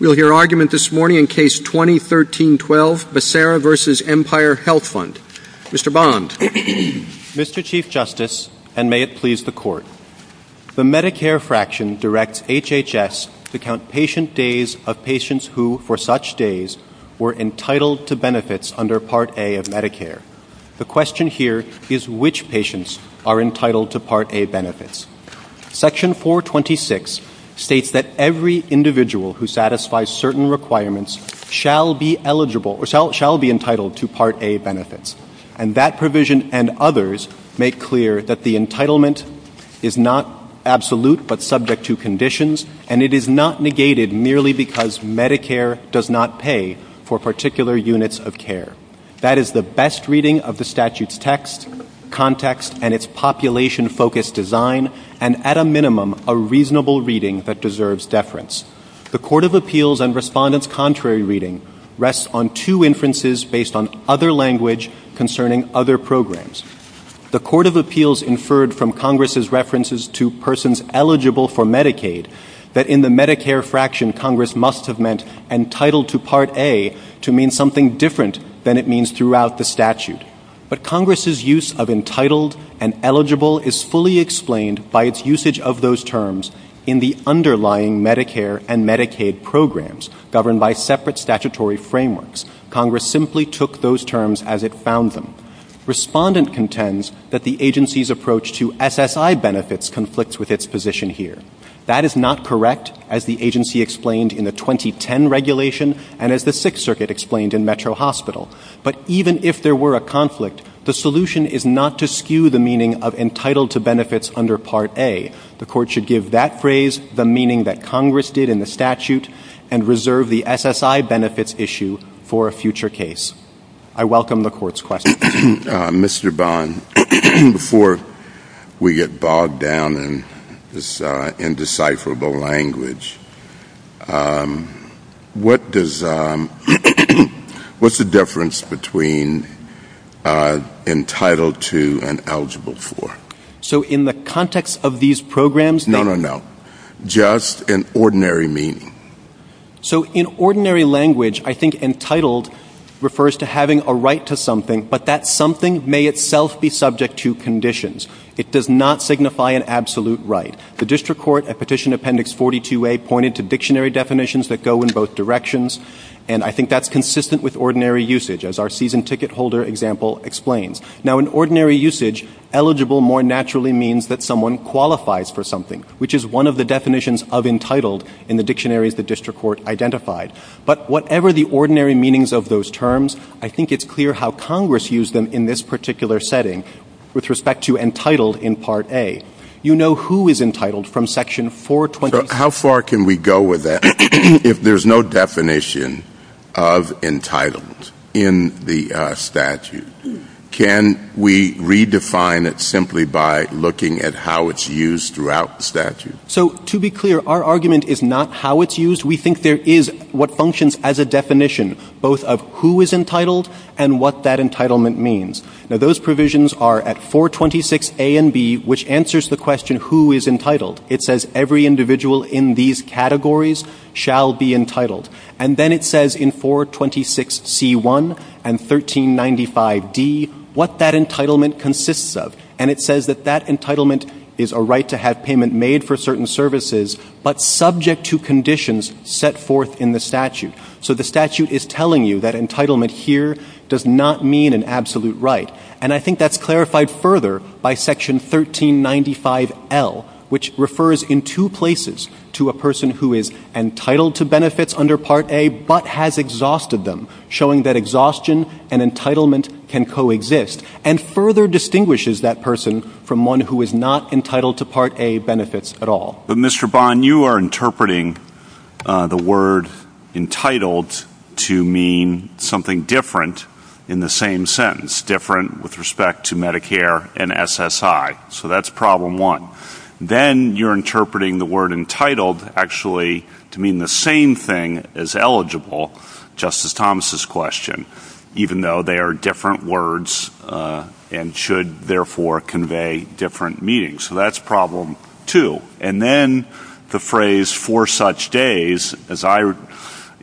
We'll hear argument this morning in Case 2013-12, Becerra v. Empire Health Fund. Mr. Bond. Mr. Chief Justice, and may it please the Court, the Medicare fraction directs HHS to count patient days of patients who, for such days, were entitled to benefits under Part A of Medicare. The question here is which patients are entitled to Part A benefits. Section 426 states that every individual who satisfies certain requirements shall be entitled to Part A benefits. And that provision and others make clear that the entitlement is not absolute but subject to conditions, and it is not negated merely because Medicare does not pay for particular units of care. That is the best reading of the statute's text, context, and its population-focused design, and at a minimum, a reasonable reading that deserves deference. The Court of Appeals and Respondents' contrary reading rests on two inferences based on other language concerning other programs. The Court of Appeals inferred from Congress's references to persons eligible for Medicaid that in the Medicare fraction, Congress must have meant entitled to Part A to mean something different than it means throughout the statute. But Congress's use of entitled and eligible is fully explained by its usage of those terms in the underlying Medicare and Medicaid programs governed by separate statutory frameworks. Congress simply took those terms as it found them. Respondent contends that the agency's approach to SSI benefits conflicts with its position here. That is not correct, as the agency explained in the 2010 regulation, and as the Sixth Circuit explained in Metro Hospital. But even if there were a conflict, the solution is not to skew the meaning of entitled to benefits under Part A. The Court should give that phrase the meaning that Congress did in the statute and reserve the SSI benefits issue for a future case. I welcome the Court's questions. Mr. Bond, before we get bogged down in this indecipherable language, what's the difference between entitled to and eligible for? So in the context of these programs... No, no, no. Just in ordinary meaning. So in ordinary language, I think entitled refers to having a right to something, but that something may itself be subject to conditions. It does not signify an absolute right. The District Court, at Petition Appendix 42A, pointed to dictionary definitions that go in both directions, and I think that's consistent with ordinary usage, as our season ticket holder example explains. Now, in ordinary usage, eligible more naturally means that someone qualifies for something, which is one of the definitions of entitled in the dictionaries the District Court identified. But whatever the ordinary meanings of those terms, I think it's clear how Congress used them in this particular setting with respect to entitled in Part A. You know who is entitled from Section 426... How far can we go with that? If there's no definition of entitled in the statute, can we redefine it simply by looking at how it's used throughout the statute? So, to be clear, our argument is not how it's used. We think there is what functions as a definition, both of who is entitled and what that entitlement means. Now, those provisions are at 426A and B, which answers the question who is entitled. It says every individual in these categories shall be entitled. And then it says in 426C1 and 1395D what that entitlement consists of. And it says that that entitlement is a right to have payment made for certain services, but subject to conditions set forth in the statute. So the statute is telling you that entitlement here does not mean an absolute right. And I think that's clarified further by Section 1395L, which refers in two places to a person who is entitled to benefits under Part A, but has exhausted them, showing that exhaustion and entitlement can coexist, and further distinguishes that person from one who is not entitled to Part A benefits at all. Mr. Bond, you are interpreting the word entitled to mean something different in the same sentence, different with respect to Medicare and SSI. So that's problem one. Then you're interpreting the word entitled actually to mean the same thing as eligible, Justice Thomas' question, even though they are different words and should therefore convey different meanings. So that's problem two. And then the phrase for such days, as I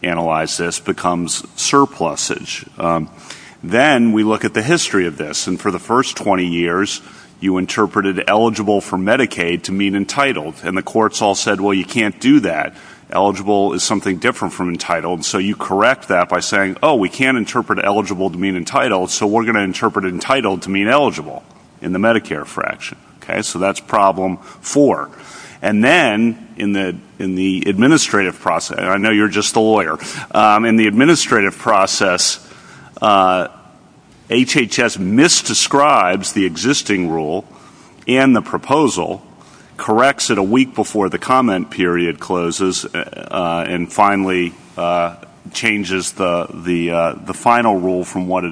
analyze this, becomes surpluses. Then we look at the history of this. And for the first 20 years, you interpreted eligible for Medicaid to mean entitled. And the courts all said, well, you can't do that. Eligible is something different from entitled. So you correct that by saying, oh, we can't interpret eligible to mean entitled, so we're going to interpret entitled to mean eligible in the Medicare fraction. So that's problem four. And then in the administrative process, I know you're just a lawyer, in the administrative process, HHS misdescribes the existing rule and the proposal, corrects it a week before the comment period closes, and finally changes the final rule from what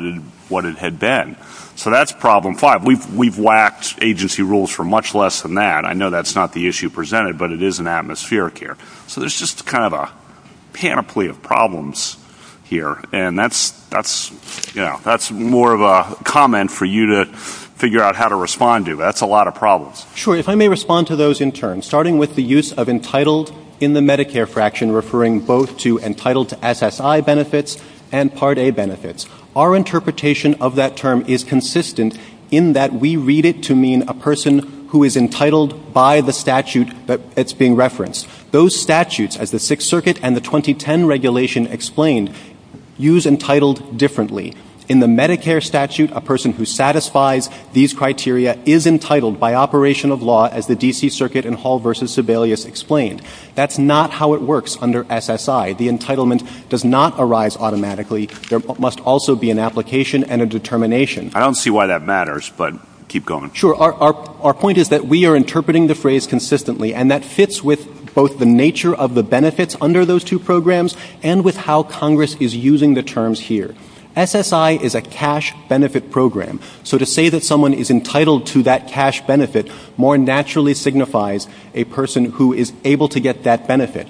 it had been. So that's problem five. We've whacked agency rules for much less than that. I know that's not the issue presented, but it is an atmospheric here. So there's just kind of a panoply of problems here. And that's more of a comment for you to figure out how to respond to. That's a lot of problems. Sure. If I may respond to those in turn. Starting with the use of entitled in the Medicare fraction, referring both to entitled SSI benefits and Part A benefits. Our interpretation of that term is consistent in that we read it to mean a person who is entitled by the statute that's being referenced. Those statutes, as the Sixth Circuit and the 2010 regulation explained, use entitled differently. In the Medicare statute, a person who satisfies these criteria is entitled by operation of law as the D.C. Circuit in Hall v. Sebelius explained. That's not how it works under SSI. The entitlement does not arise automatically. There must also be an application and a determination. I don't see why that matters, but keep going. Sure. Our point is that we are interpreting the phrase consistently. And that fits with both the nature of the benefits under those two programs and with how Congress is using the terms here. SSI is a cash benefit program. So to say that someone is entitled to that cash benefit more naturally signifies a person who is able to get that benefit.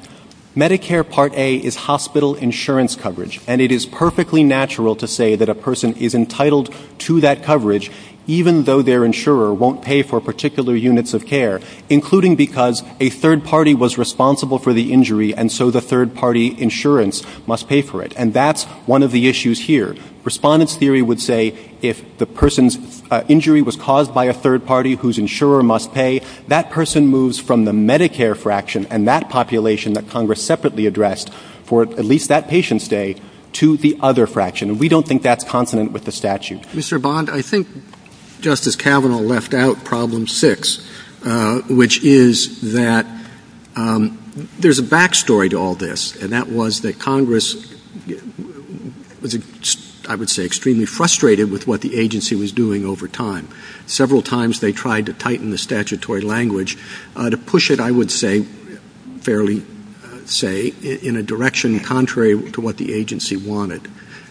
Medicare Part A is hospital insurance coverage. And it is perfectly natural to say that a person is entitled to that coverage even though their insurer won't pay for particular units of care, including because a third party was responsible for the injury and so the third party insurance must pay for it. And that's one of the issues here. Respondents' theory would say if the person's injury was caused by a third party whose insurer must pay, that person moves from the Medicare fraction and that population that Congress separately addressed for at least that patient's day to the other fraction. We don't think that's consonant with the statute. Mr. Bond, I think Justice Kavanaugh left out problem six, which is that there's a back story to all this. And that was that Congress was, I would say, extremely frustrated with what the agency was doing over time. Several times they tried to tighten the statutory language to push it, I would say, fairly say, in a direction contrary to what the agency wanted.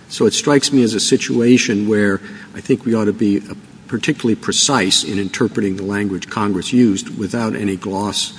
So it strikes me as a situation where I think we ought to be particularly precise in interpreting the language Congress used without any gloss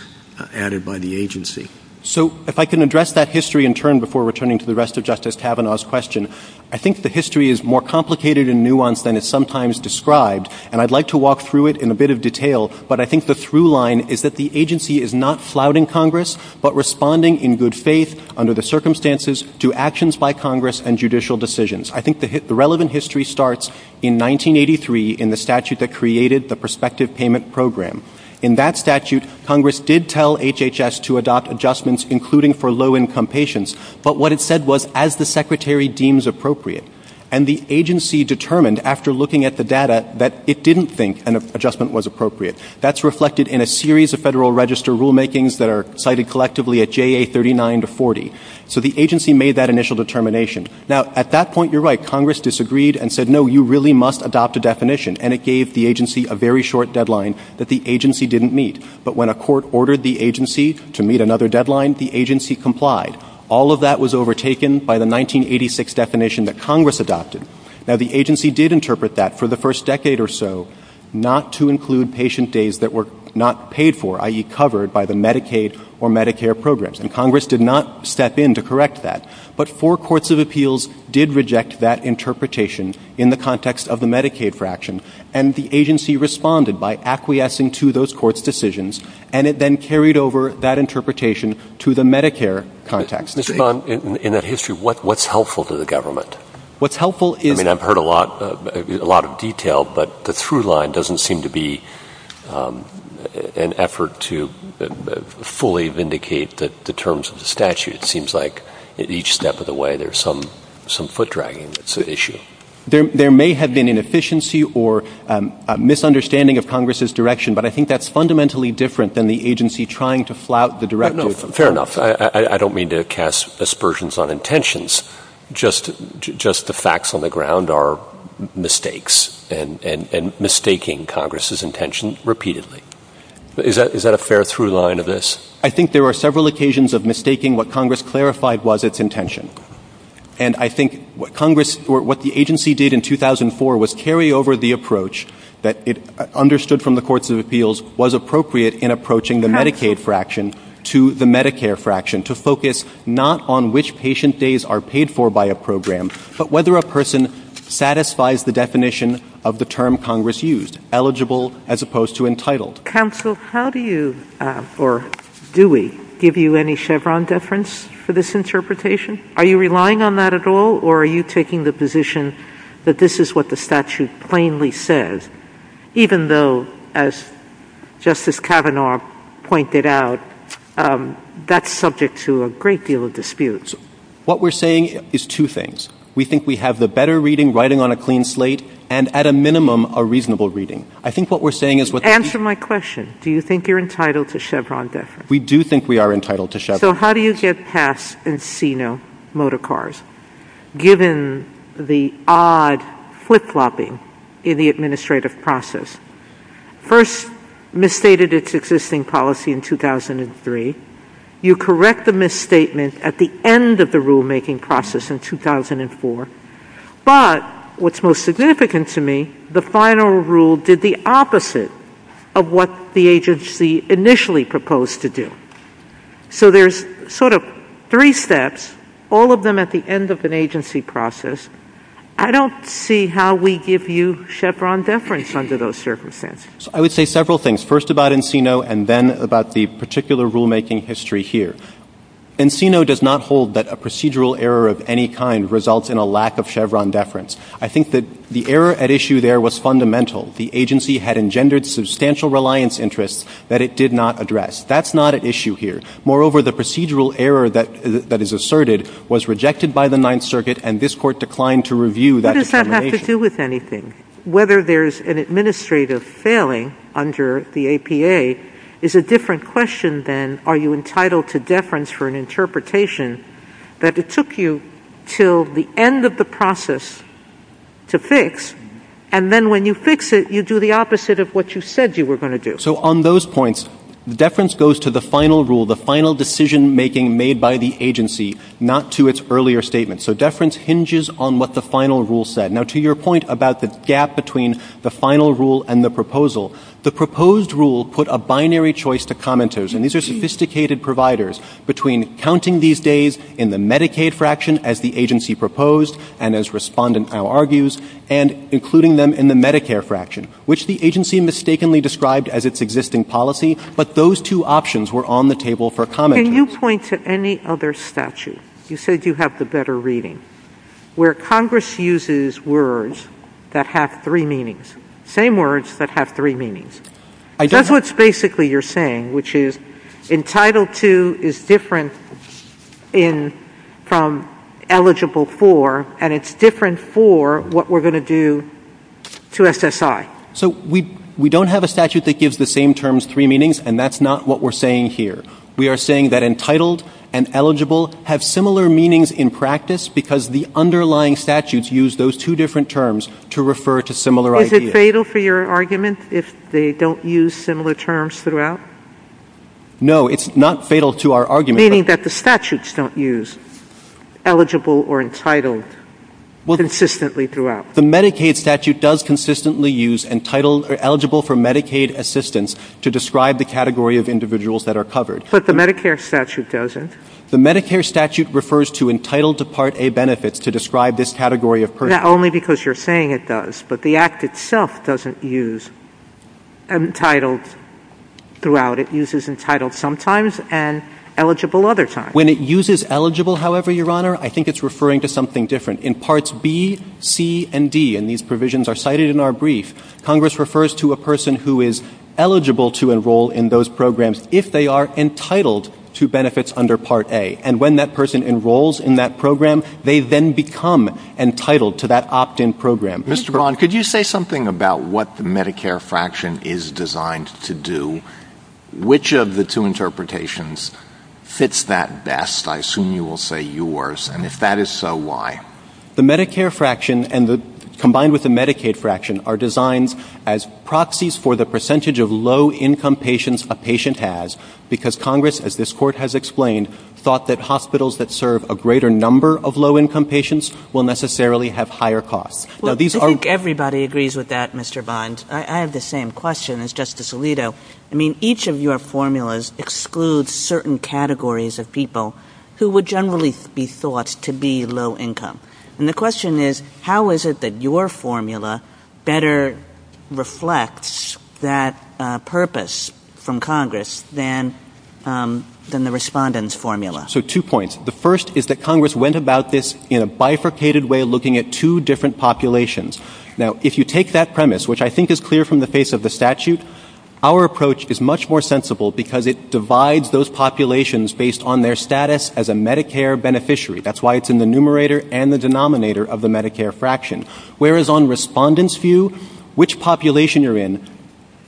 added by the agency. So if I can address that history in turn before returning to the rest of Justice Kavanaugh's question, I think the history is more complicated and nuanced than it's sometimes described and I'd like to walk through it in a bit of detail, but I think the through line is that the agency is not flouting Congress, but responding in good faith under the circumstances to actions by Congress and judicial decisions. I think the relevant history starts in 1983 in the statute that created the prospective payment program. In that statute, Congress did tell HHS to adopt adjustments including for low-income patients, but what it said was, as the Secretary deems appropriate. And the agency determined after looking at the data that it didn't think an adjustment was appropriate. That's reflected in a series of Federal Register rulemakings that are cited collectively at JA 39 to 40. So the agency made that initial determination. Now, at that point, you're right, Congress disagreed and said, no, you really must adopt a definition and it gave the agency a very short deadline that the agency didn't meet. But when a court ordered the agency to meet another deadline, the agency complied. All of that was overtaken by the 1986 definition that Congress adopted. Now, the agency did interpret that for the first decade or so not to include patient days that were not paid for, i.e., covered by the Medicaid or Medicare programs. And Congress did not step in to correct that. But four courts of appeals did reject that interpretation in the context of the Medicaid fraction. And the agency responded by acquiescing to those courts' decisions and it then carried over that interpretation to the Medicare context. Mr. Bond, in that history, what's helpful to the government? What's helpful is... I mean, I've heard a lot of detail, but the through line doesn't seem to be an effort to fully vindicate the terms of the statute. It seems like at each step of the way, there's some foot dragging that's an issue. There may have been inefficiency or a misunderstanding of Congress's direction, but I think that's fundamentally different than the agency trying to flout the directives. Fair enough. I don't mean to cast aspersions on intentions. Just the facts on the ground are mistakes and mistaking Congress's intention repeatedly. Is that a fair through line of this? I think there are several occasions of mistaking what Congress clarified was its intention. And I think what the agency did in 2004 was carry over the approach that it understood from the courts of appeals was appropriate in approaching the Medicaid fraction to the Medicare fraction to focus not on which patient days are paid for by a program, but whether a person satisfies the definition of the term Congress used, eligible as opposed to entitled. Counsel, how do you, or do we, give you any Chevron deference for this interpretation? Are you relying on that at all, or are you taking the position that this is what the statute plainly says, even though, as Justice Kavanaugh pointed out, that's subject to a great deal of dispute? What we're saying is two things. We think we have the better reading, writing on a clean slate, and at a minimum, a reasonable reading. Answer my question. Do you think you're entitled to Chevron deference? We do think we are entitled to Chevron. So how do you get past Encino motor cars, given the odd flip-flopping in the administrative process? First, misstated its existing policy in 2003. You correct the misstatement at the end of the rulemaking process in 2004. But what's most significant to me, the final rule did the opposite of what the agency initially proposed to do. So there's sort of three steps, all of them at the end of an agency process. I don't see how we give you Chevron deference under those circumstances. I would say several things, first about Encino, and then about the particular rulemaking history here. Encino does not hold that a procedural error of any kind results in a lack of Chevron deference. I think that the error at issue there was fundamental. The agency had engendered substantial reliance interests that it did not address. That's not at issue here. Moreover, the procedural error that is asserted was rejected by the Ninth Circuit, and this court declined to review that determination. What does that have to do with anything? Whether there's an administrative failing under the APA is a different question than, are you entitled to deference for an interpretation that it took you until the end of the process to fix, and then when you fix it, you do the opposite of what you said you were going to do. So on those points, deference goes to the final rule, the final decision-making made by the agency, not to its earlier statement. So deference hinges on what the final rule said. Now, to your point about the gap between the final rule and the proposal, the proposed rule put a binary choice to commenters, and these are sophisticated providers, between counting these days in the Medicaid fraction as the agency proposed and, as Respondent Powell argues, and including them in the Medicare fraction, which the agency mistakenly described as its existing policy, but those two options were on the table for commenters. Can you point to any other statute? You said you have the better reading, where Congress uses words that have three meanings, same words that have three meanings. That's what basically you're saying, which is entitled to is different from eligible for, and it's different for what we're going to do to SSI. So we don't have a statute that gives the same terms three meanings, and that's not what we're saying here. We are saying that entitled and eligible have similar meanings in practice because the underlying statutes use those two different terms to refer to similar ideas. Is it fatal for your argument if they don't use similar terms throughout? No, it's not fatal to our argument. Meaning that the statutes don't use eligible or entitled consistently throughout. The Medicaid statute does consistently use eligible for Medicaid assistance to describe the category of individuals that are covered. But the Medicare statute doesn't. The Medicare statute refers to entitled to Part A benefits to describe this category of persons. Not only because you're saying it does, but the Act itself doesn't use entitled throughout. It uses entitled sometimes and eligible other times. When it uses eligible, however, Your Honor, I think it's referring to something different. In Parts B, C, and D, and these provisions are cited in our brief, Congress refers to a person who is eligible to enroll in those programs if they are entitled to benefits under Part A. And when that person enrolls in that program, they then become entitled to that opt-in program. Mr. Braun, could you say something about what the Medicare fraction is designed to do? Which of the two interpretations fits that best? I assume you will say yours. And if that is so, why? The Medicare fraction, combined with the Medicaid fraction, are designed as proxies for the percentage of low-income patients a patient has because Congress, as this Court has explained, thought that hospitals that serve a greater number of low-income patients will necessarily have higher costs. I think everybody agrees with that, Mr. Vons. I have the same question as Justice Alito. I mean, each of your formulas excludes certain categories of people who would generally be thought to be low-income. And the question is, how is it that your formula better reflects that purpose from Congress than the Respondent's formula? So, two points. The first is that Congress went about this in a bifurcated way, looking at two different populations. Now, if you take that premise, which I think is clear from the face of the statute, our approach is much more sensible because it divides those populations based on their status as a Medicare beneficiary. That's why it's in the numerator and the denominator of the Medicare fraction. Whereas on Respondent's view, which population you're in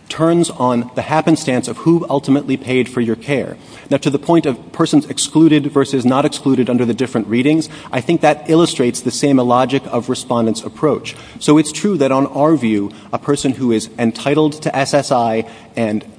turns on the happenstance of who ultimately paid for your care. Now, to the point of persons excluded versus not excluded under the different readings, I think that illustrates the same logic of Respondent's approach. So, it's true that on our view, a person who is entitled to SSI,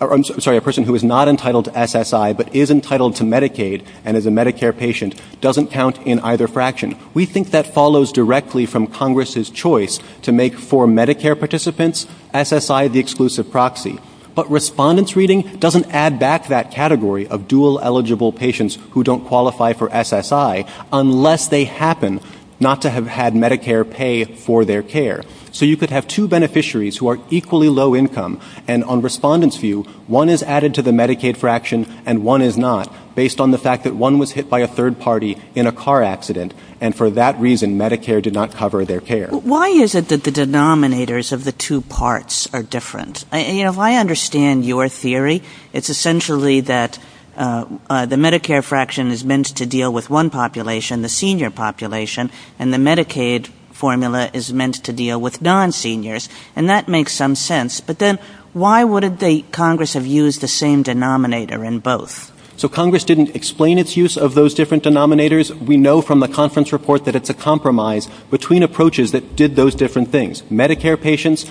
I'm sorry, a person who is not entitled to SSI but is entitled to Medicaid and is a Medicare patient, doesn't count in either fraction. We think that follows directly from Congress's choice to make for Medicare participants SSI the exclusive proxy. But Respondent's reading doesn't add back that category of dual eligible patients who don't qualify for SSI unless they happen not to have had Medicare pay for their care. So, you could have two beneficiaries who are equally low income and on Respondent's view, one is added to the Medicaid fraction and one is not based on the fact that one was hit by a third party in a car accident and for that reason, Medicare did not cover their care. Why is it that the denominators of the two parts are different? If I understand your theory, it's essentially that the Medicare fraction is meant to deal with one population, the senior population, and the Medicaid formula is meant to deal with non-seniors and that makes some sense. But then, why would Congress have used the same denominator in both? So, Congress didn't explain its use of those different denominators. We know from the conference report that it's a compromise between approaches that did those different things. Medicare patients,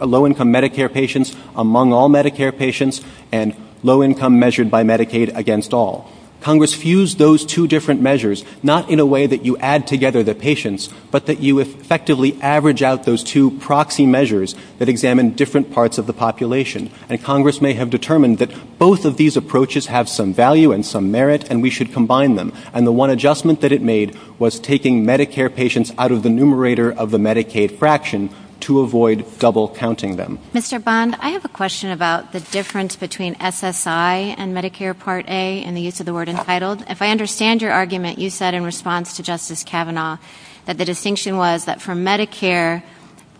low income Medicare patients, among all Medicare patients, and low income measured by Medicaid against all. Congress fused those two different measures, not in a way that you add together the patients, but that you effectively average out those two proxy measures that examine different parts of the population. And Congress may have determined that both of these approaches have some value and some merit and we should combine them. And the one adjustment that it made was taking Medicare patients out of the numerator of the Medicaid fraction to avoid double counting them. Mr. Bond, I have a question about the difference between SSI and Medicare Part A and the use of the word entitled. If I understand your argument, you said in response to Justice Kavanaugh that the distinction was that for Medicare,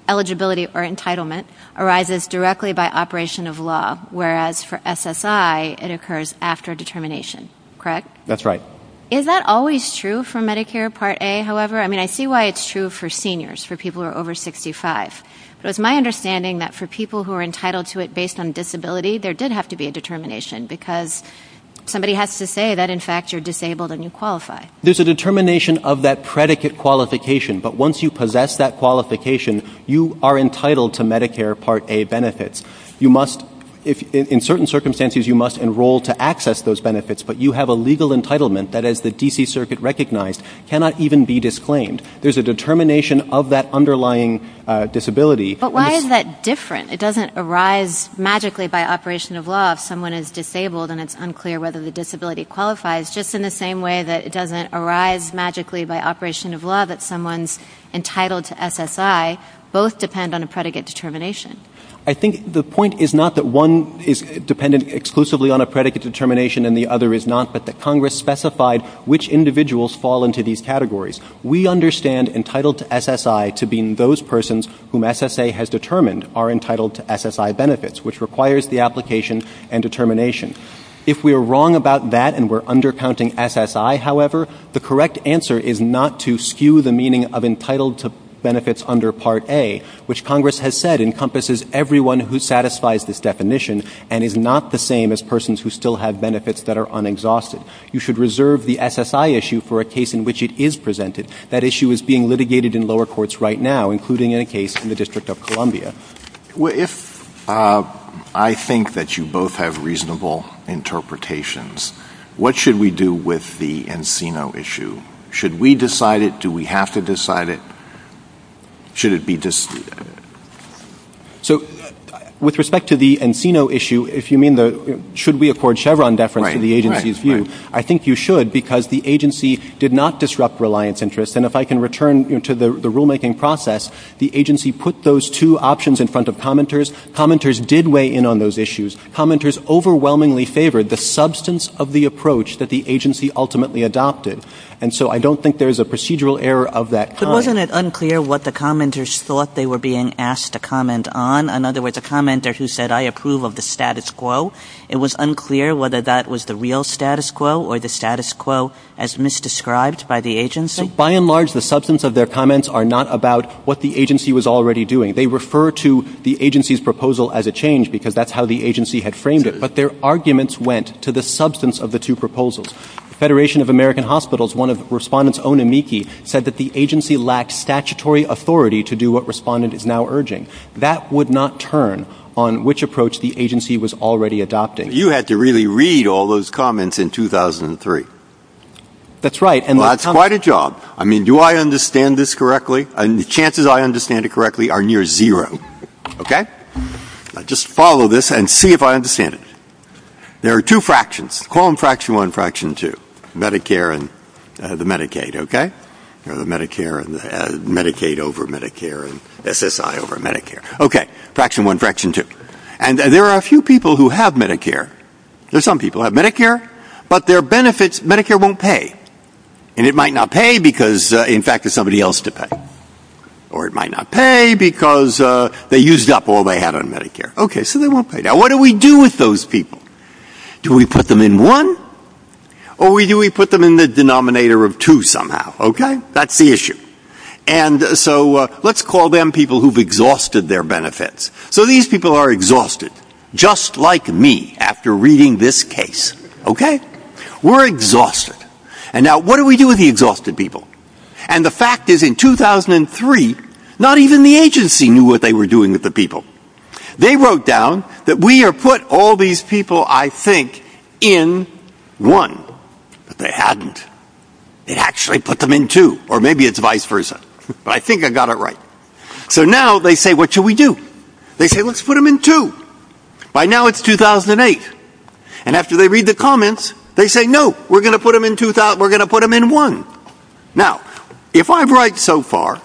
eligibility or entitlement arises directly by operation of law, whereas for SSI, it occurs after determination. Correct? That's right. Is that always true for Medicare Part A? However, I mean, I see why it's true for seniors, for people who are over 65. But it's my understanding that for people who are entitled to it based on disability, there did have to be a determination because somebody has to say that, in fact, you're disabled and you qualify. There's a determination of that predicate qualification. But once you possess that qualification, you are entitled to Medicare Part A benefits. In certain circumstances, you must enroll to access those benefits. But you have a legal entitlement that, as the D.C. Circuit recognized, cannot even be disclaimed. There's a determination of that underlying disability. But why is that different? It doesn't arise magically by operation of law. If someone is disabled and it's unclear whether the disability qualifies, just in the same way that it doesn't arise magically by operation of law that someone's entitled to SSI, both depend on a predicate determination. I think the point is not that one is dependent exclusively on a predicate determination and the other is not that the Congress specified which individuals fall into these categories. We understand entitled to SSI to being those persons whom SSA has determined are entitled to SSI benefits, which requires the application and determination. If we are wrong about that and we're undercounting SSI, however, the correct answer is not to skew the meaning of entitled to benefits under Part A, which Congress has said encompasses everyone who satisfies this definition and is not the same as persons who still have benefits that are unexhausted. You should reserve the SSI issue for a case in which it is presented. That issue is being litigated in lower courts right now, including a case in the District of Columbia. If I think that you both have reasonable interpretations, what should we do with the Encino issue? Should we decide it? Do we have to decide it? Should it be disputed? So with respect to the Encino issue, if you mean the should we afford Chevron deference to the agency's view, I think you should because the agency did not disrupt reliance interest. And if I can return to the rulemaking process, the agency put those two options in front of commenters. Commenters did weigh in on those issues. Commenters overwhelmingly favored the substance of the approach that the agency ultimately adopted. And so I don't think there's a procedural error of that kind. Wasn't it unclear what the commenters thought they were being asked to comment on? In other words, the commenter who said, I approve of the status quo, it was unclear whether that was the real status quo or the status quo as misdescribed by the agency? By and large, the substance of their comments are not about what the agency was already doing. They refer to the agency's proposal as a change because that's how the agency had framed it. But their arguments went to the substance of the two proposals. The Federation of American Hospitals, one of respondents' own amici, said that the agency lacked statutory authority to do what respondent is now urging. That would not turn on which approach the agency was already adopting. You had to really read all those comments in 2003. That's right. That's quite a job. I mean, do I understand this correctly? And the chances I understand it correctly are near zero. Okay? Just follow this and see if I understand it. There are two fractions. Call them Fraction 1 and Fraction 2. Medicare and the Medicaid. Okay? Medicare and Medicaid over Medicare and SSI over Medicare. Okay. Fraction 1, Fraction 2. And there are a few people who have Medicare. Some people have Medicare, but their benefits, Medicare won't pay. And it might not pay because, in fact, there's somebody else to pay. Or it might not pay because they used up all they had on Medicare. Okay, so they won't pay. Now, what do we do with those people? Do we put them in 1 or do we put them in the denominator of 2 somehow? Okay? That's the issue. And so let's call them people who've exhausted their benefits. So these people are exhausted, just like me after reading this case. Okay? We're exhausted. And now what do we do with the exhausted people? And the fact is, in 2003, not even the agency knew what they were doing with the people. They wrote down that we have put all these people, I think, in 1. But they hadn't. They actually put them in 2. Or maybe it's vice versa. But I think I got it right. So now they say, what should we do? They say, let's put them in 2. By now it's 2008. And after they read the comments, they say, no, we're going to put them in 1. Now, if I'm right so far,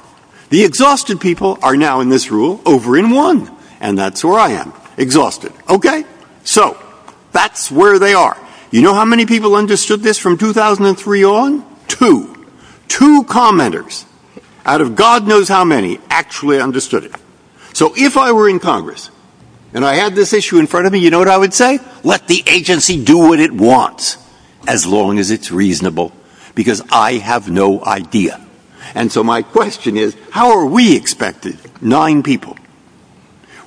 the exhausted people are now in this rule over in 1. And that's where I am. Exhausted. Okay? So that's where they are. You know how many people understood this from 2003 on? Two. Two commenters out of God knows how many actually understood it. So if I were in Congress and I had this issue in front of me, you know what I would say? Let the agency do what it wants as long as it's reasonable. Because I have no idea. And so my question is, how are we expected, nine people,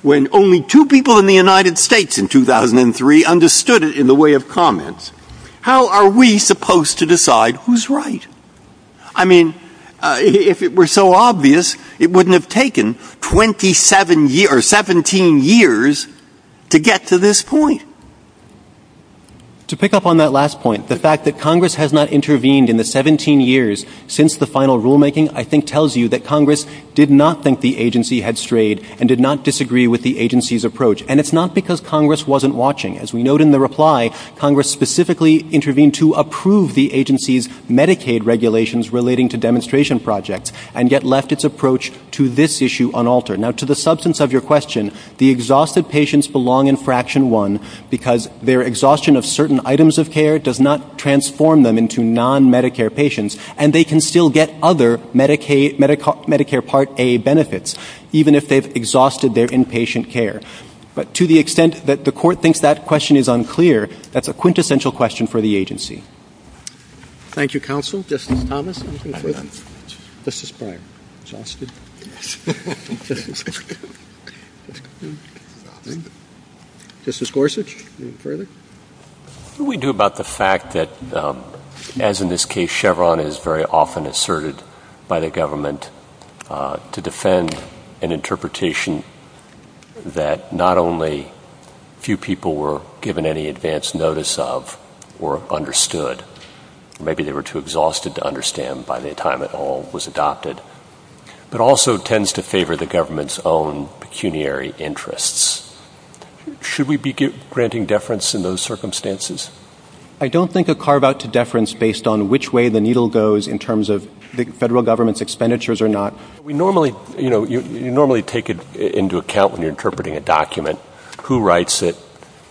when only two people in the United States in 2003 understood it in the way of comments? How are we supposed to decide who's right? I mean, if it were so obvious, it wouldn't have taken 17 years to get to this point. To pick up on that last point, the fact that Congress has not intervened in the 17 years since the final rulemaking, I think tells you that Congress did not think the agency had strayed and did not disagree with the agency's approach. And it's not because Congress wasn't watching. As we note in the reply, Congress specifically intervened to approve the agency's Medicaid regulations relating to demonstration projects and yet left its approach to this issue unaltered. Now, to the substance of your question, the exhausted patients belong in Fraction 1 because their exhaustion of certain items of care does not transform them into non-Medicare patients, and they can still get other Medicare Part A benefits, even if they've exhausted their inpatient care. But to the extent that the Court thinks that question is unclear, that's a quintessential question for the agency. Thank you, Counsel. Justice Thomas, anything further? Justice Clark. Justice? Justice Gorsuch, anything further? What do we do about the fact that, as in this case, Chevron is very often asserted by the government to defend an interpretation that not only few people were given any advance notice of or understood, maybe they were too exhausted to understand by the time it all was adopted, but also tends to favor the government's own pecuniary interests? Should we be granting deference in those circumstances? I don't think a carve-out to deference based on which way the needle goes in terms of the federal government's expenditures or not. We normally, you know, you normally take into account when you're interpreting a document who writes it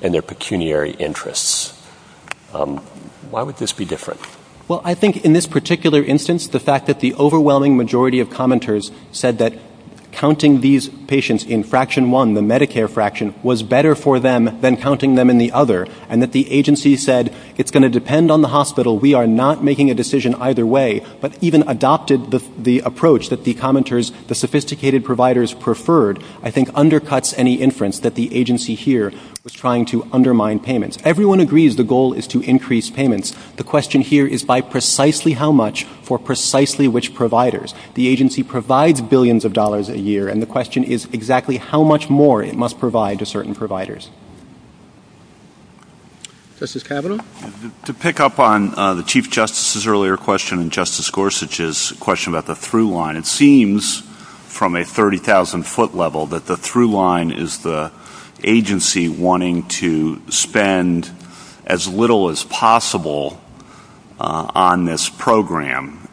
and their pecuniary interests. Why would this be different? Well, I think in this particular instance, the fact that the overwhelming majority of commenters said that counting these patients in Fraction 1, the Medicare fraction, was better for them than counting them in the other, and that the agency said it's going to depend on the hospital, we are not making a decision either way, but even adopted the approach that the commenters, the sophisticated providers preferred, I think undercuts any inference that the agency here was trying to undermine payments. Everyone agrees the goal is to increase payments. The question here is by precisely how much for precisely which providers. The agency provides billions of dollars a year, and the question is exactly how much more it must provide to certain providers. Justice Kavanaugh? To pick up on the Chief Justice's earlier question and Justice Gorsuch's question about the through line, it seems from a 30,000 foot level that the through line is the agency wanting to spend as little as possible on this program,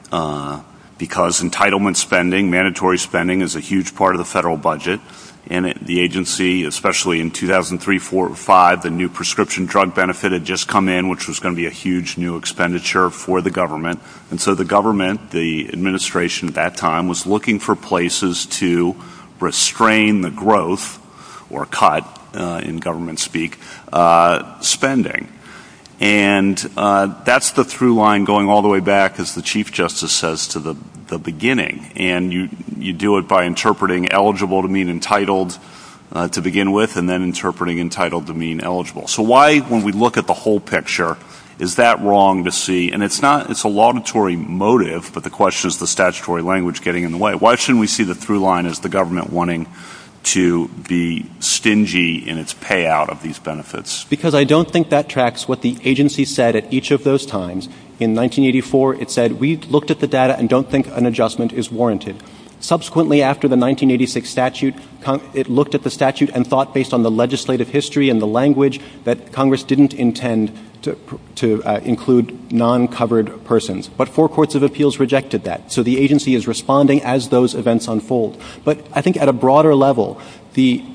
because entitlement spending, mandatory spending, is a huge part of the federal budget, and the agency, especially in 2003, 2004, 2005, the new prescription drug benefit had just come in, which was going to be a huge new expenditure for the government, and so the government, the administration at that time, was looking for places to restrain the growth, or cut, in government speak, spending. And that's the through line going all the way back, as the Chief Justice says, to the beginning, and you do it by interpreting eligible to mean entitled to begin with, and then interpreting entitled to mean eligible. So why, when we look at the whole picture, is that wrong to see? And it's not, it's a laudatory motive, but the question is the statutory language getting in the way. Why shouldn't we see the through line as the government wanting to be stingy in its payout of these benefits? Because I don't think that tracks what the agency said at each of those times. In 1984, it said, we've looked at the data and don't think an adjustment is warranted. Subsequently, after the 1986 statute, it looked at the statute and thought, based on the legislative history and the language, that Congress didn't intend to include non-covered persons. But four courts of appeals rejected that. So the agency is responding as those events unfold. But I think at a broader level, the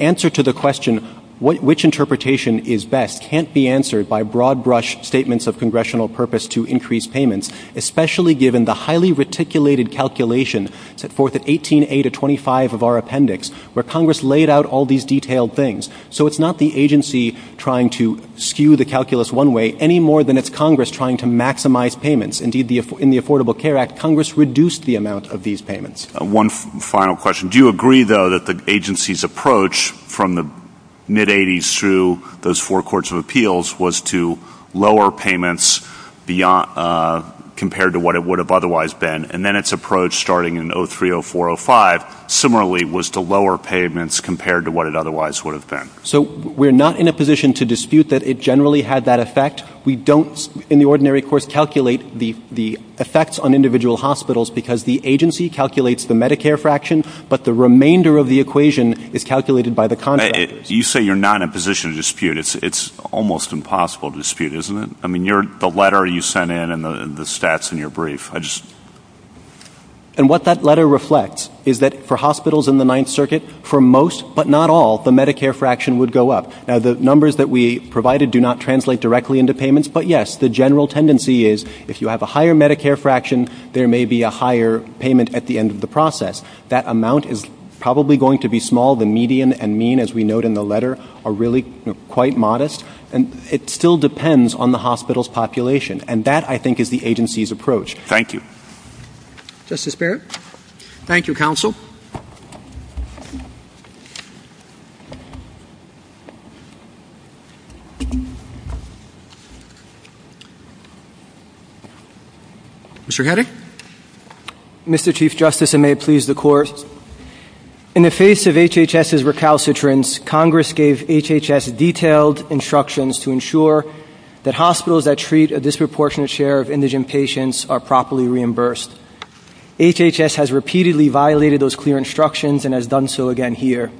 answer to the question, which interpretation is best, can't be answered by broad-brush statements of congressional purpose to increase payments, especially given the highly reticulated calculation set forth at 18A to 25 of our appendix, where Congress laid out all these detailed things. So it's not the agency trying to skew the calculus one way any more than it's Congress trying to maximize payments. Indeed, in the Affordable Care Act, Congress reduced the amount of these payments. One final question. Do you agree, though, that the agency's approach from the mid-'80s through those four courts of appeals was to lower payments compared to what it would have otherwise been, and then its approach starting in 03, 04, 05 similarly was to lower payments compared to what it otherwise would have been? So we're not in a position to dispute that it generally had that effect. We don't, in the ordinary course, calculate the effects on individual hospitals because the agency calculates the Medicare fraction, but the remainder of the equation is calculated by the contract. You say you're not in a position to dispute. It's an almost impossible dispute, isn't it? I mean, the letter you sent in and the stats in your brief, I just... And what that letter reflects is that for hospitals in the Ninth Circuit, for most but not all, the Medicare fraction would go up. Now, the numbers that we provided do not translate directly into payments, but, yes, the general tendency is if you have a higher Medicare fraction, there may be a higher payment at the end of the process. That amount is probably going to be small. The median and mean, as we note in the letter, are really quite modest, and it still depends on the hospital's population, and that, I think, is the agency's approach. Thank you. Justice Barrett? Thank you, counsel. Mr. Headache? Mr. Chief Justice, and may it please the Court, in the face of HHS's recalcitrance, Congress gave HHS detailed instructions to ensure that hospitals that treat a disproportionate share of indigent patients are properly reimbursed. HHS has repeatedly violated those clear instructions and has done so again here.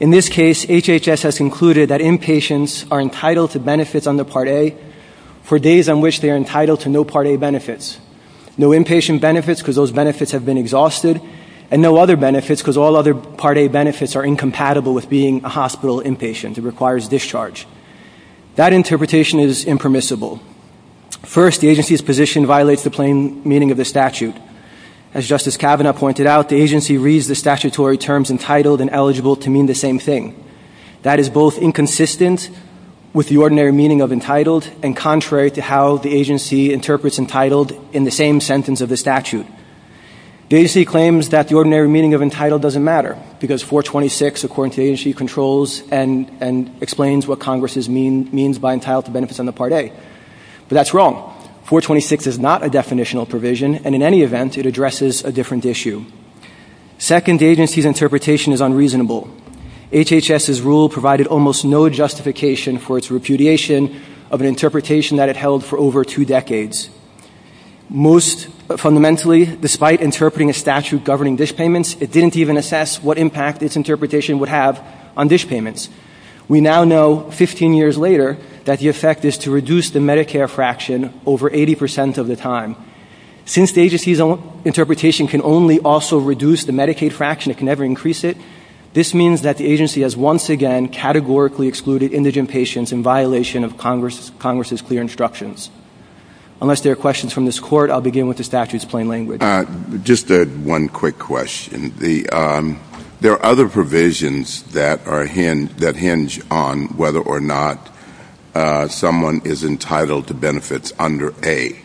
In this case, HHS has concluded that inpatients are entitled to benefits under Part A, for days on which they are entitled to no Part A benefits, no inpatient benefits because those benefits have been exhausted, and no other benefits because all other Part A benefits are incompatible with being a hospital inpatient. It requires discharge. That interpretation is impermissible. First, the agency's position violates the plain meaning of the statute. As Justice Kavanaugh pointed out, the agency reads the statutory terms entitled and eligible to mean the same thing. That is both inconsistent with the ordinary meaning of entitled and contrary to how the agency interprets entitled in the same sentence of the statute. The agency claims that the ordinary meaning of entitled doesn't matter because 426, according to the agency, controls and explains what Congress means by entitled to benefits under Part A. But that's wrong. 426 is not a definitional provision, and in any event, it addresses a different issue. Second, the agency's interpretation is unreasonable. HHS's rule provided almost no justification for its repudiation of an interpretation that it held for over two decades. Most fundamentally, despite interpreting a statute governing dish payments, it didn't even assess what impact its interpretation would have on dish payments. We now know, 15 years later, that the effect is to reduce the Medicare fraction over 80% of the time. Since the agency's interpretation can only also reduce the Medicaid fraction, it can never increase it, this means that the agency has once again categorically excluded indigent patients in violation of Congress's clear instructions. Unless there are questions from this Court, I'll begin with the statute's plain language. Just one quick question. There are other provisions that hinge on whether or not someone is entitled to benefits under A.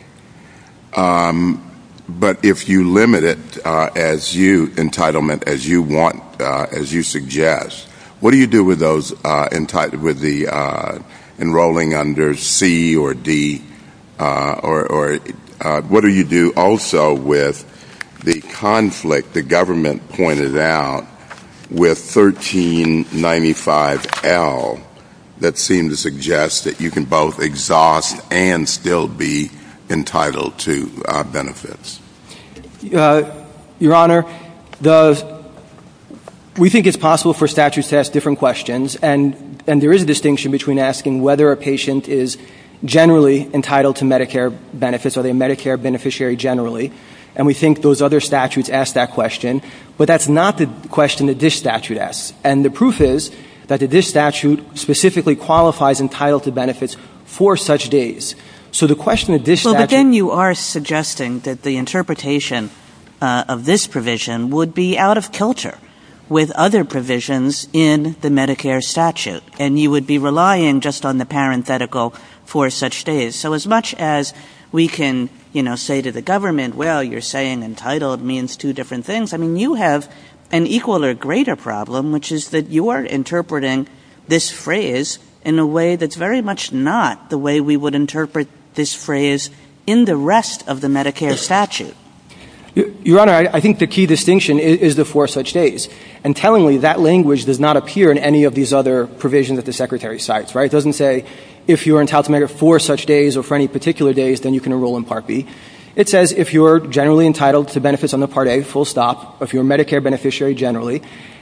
But if you limit entitlement as you want, as you suggest, what do you do with those enrolling under C or D? And what do you do also with the conflict the government pointed out with 1395L that seemed to suggest that you can both exhaust and still be entitled to benefits? Your Honor, we think it's possible for statutes to ask different questions, and there is a distinction between asking whether a patient is generally entitled to Medicare benefits, are they a Medicare beneficiary generally, and we think those other statutes ask that question, but that's not the question that this statute asks. And the proof is that this statute specifically qualifies entitled to benefits for such days. So the question that this statute... But then you are suggesting that the interpretation of this provision would be out of culture with other provisions in the Medicare statute, and you would be relying just on the parenthetical for such days. So as much as we can say to the government, well, you're saying entitled means two different things, I mean, you have an equal or greater problem, which is that you are interpreting this phrase in a way that's very much not the way we would interpret this phrase in the rest of the Medicare statute. Your Honor, I think the key distinction is the four such days. And tellingly, that language does not appear in any of these other provisions that the Secretary cites, right? It doesn't say if you are entitled to Medicare for such days or for any particular days, then you can enroll in Part B. It says if you are generally entitled to benefits under Part A, full stop, or if you're a Medicare beneficiary generally.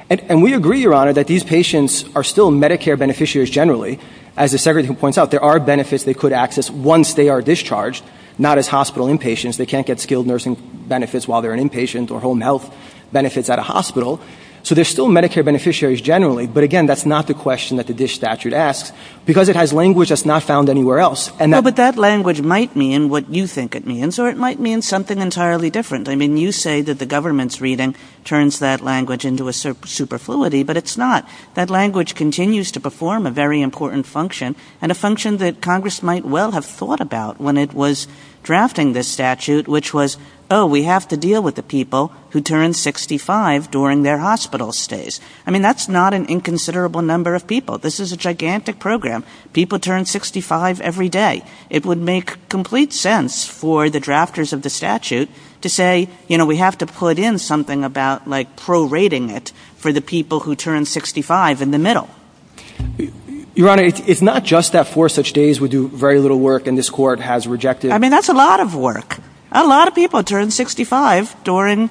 And we agree, Your Honor, that these patients are still Medicare beneficiaries generally. As the Secretary points out, there are benefits they could access once they are discharged, not as hospital inpatients. They can't get skilled nursing benefits while they're an inpatient or home health benefits at a hospital. So they're still Medicare beneficiaries generally. But again, that's not the question that the DISH statute asks, because it has language that's not found anywhere else. But that language might mean what you think it means, or it might mean something entirely different. I mean, you say that the government's reading turns that language into a superfluity, but it's not. That language continues to perform a very important function, and a function that Congress might well have thought about when it was drafting this statute, which was, oh, we have to deal with the people who turn 65 during their hospital stays. I mean, that's not an inconsiderable number of people. This is a gigantic program. People turn 65 every day. It would make complete sense for the drafters of the statute to say, you know, we have to put in something about, like, prorating it for the people who turn 65 in the middle. Your Honor, it's not just that four such days would do very little work, and this Court has rejected... I mean, that's a lot of work. A lot of people turn 65 during,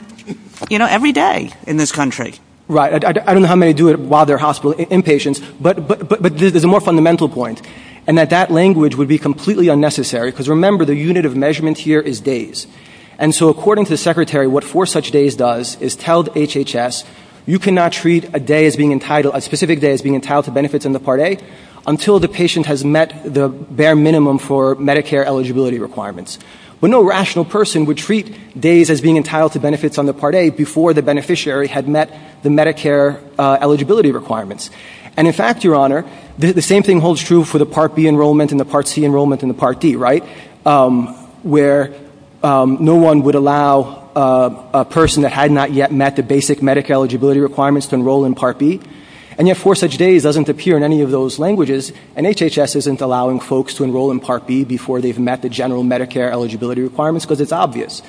you know, every day in this country. Right. I don't know how many do it while they're inpatient, but there's a more fundamental point, and that that language would be completely unnecessary, because remember, the unit of measurement here is days. And so according to the Secretary, what four such days does is tell the HHS, you cannot treat a specific day as being entitled to benefits under Part A until the patient has met the bare minimum for Medicare eligibility requirements. But no rational person would treat days as being entitled to benefits under Part A before the beneficiary had met the Medicare eligibility requirements. And in fact, Your Honor, the same thing holds true for the Part B enrollment and the Part C enrollment and the Part D, right, where no one would allow a person that had not yet met the basic Medicare eligibility requirements to enroll in Part B, and yet four such days doesn't appear in any of those languages, and HHS isn't allowing folks to enroll in Part B before they've met the general Medicare eligibility requirements, because it's obvious.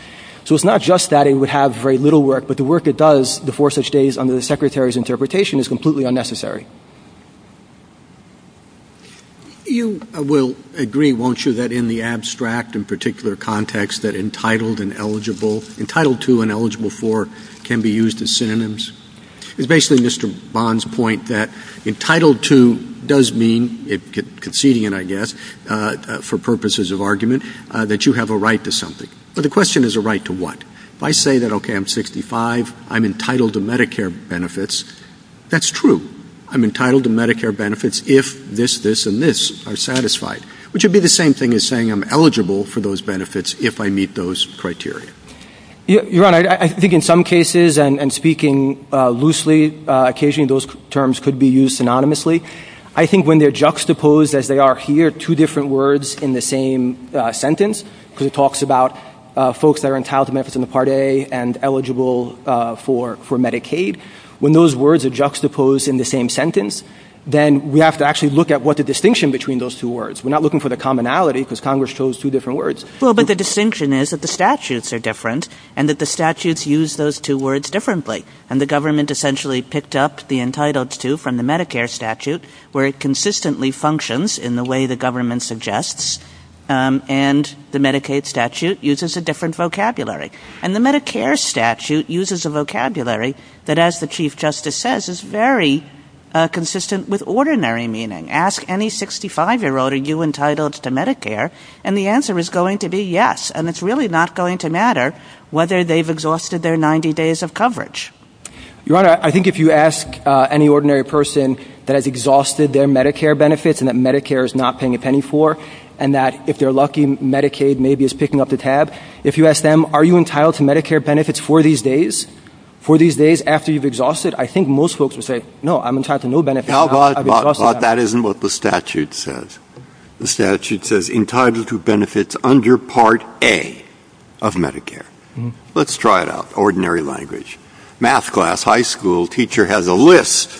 So it's not just that it would have very little work, but the work it does, the four such days under the Secretary's interpretation, is completely unnecessary. You will agree, won't you, that in the abstract and particular context that entitled and eligible, entitled to and eligible for can be used as synonyms? It's basically Mr. Bond's point that entitled to does mean, it's conceding, I guess, for purposes of argument, that you have a right to something. But the question is a right to what? If I say that, okay, I'm 65, I'm entitled to Medicare benefits, that's true. I'm entitled to Medicare benefits if this, this, and this are satisfied, which would be the same thing as saying I'm eligible for those benefits if I meet those criteria. Your Honor, I think in some cases, and speaking loosely, occasionally those terms could be used synonymously. I think when they're juxtaposed as they are here, two different words in the same sentence, because it talks about folks that are entitled to benefits in the Part A and eligible for Medicaid. When those words are juxtaposed in the same sentence, then we have to actually look at what the distinction between those two words. We're not looking for the commonality because Congress chose two different words. Well, but the distinction is that the statutes are different and that the statutes use those two words differently. And the government essentially picked up the entitled to from the Medicare statute, where it consistently functions in the way the government suggests, and the Medicaid statute uses a different vocabulary. And the Medicare statute uses a vocabulary that, as the Chief Justice says, is very consistent with ordinary meaning. Ask any 65-year-old, are you entitled to Medicare? And the answer is going to be yes. And it's really not going to matter whether they've exhausted their 90 days of coverage. Your Honor, I think if you ask any ordinary person that has exhausted their Medicare benefits and that Medicare is not paying a penny for, and that if they're lucky, Medicaid maybe is picking up the tab, if you ask them, are you entitled to Medicare benefits for these days, for these days after you've exhausted, I think most folks would say, no, I'm entitled to no benefits. That isn't what the statute says. The statute says entitled to benefits under Part A of Medicare. Let's try it out, ordinary language. Math class, high school, teacher has a list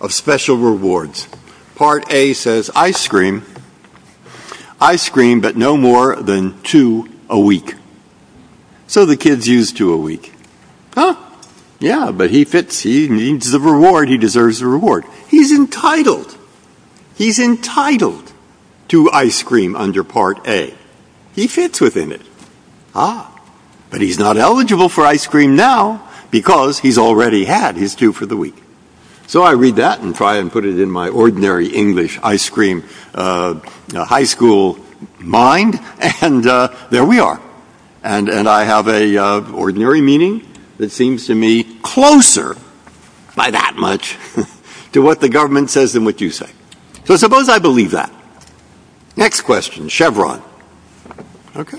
of special rewards. Part A says ice cream, ice cream but no more than two a week. So the kids use two a week. Yeah, but he needs the reward, he deserves the reward. He's entitled. He's entitled to ice cream under Part A. He fits within it. But he's not eligible for ice cream now because he's already had his two for the week. So I read that and try and put it in my ordinary English ice cream high school mind, and there we are. And I have an ordinary meaning that seems to me closer by that much to what the government says than what you say. So suppose I believe that. Next question, Chevron. Okay.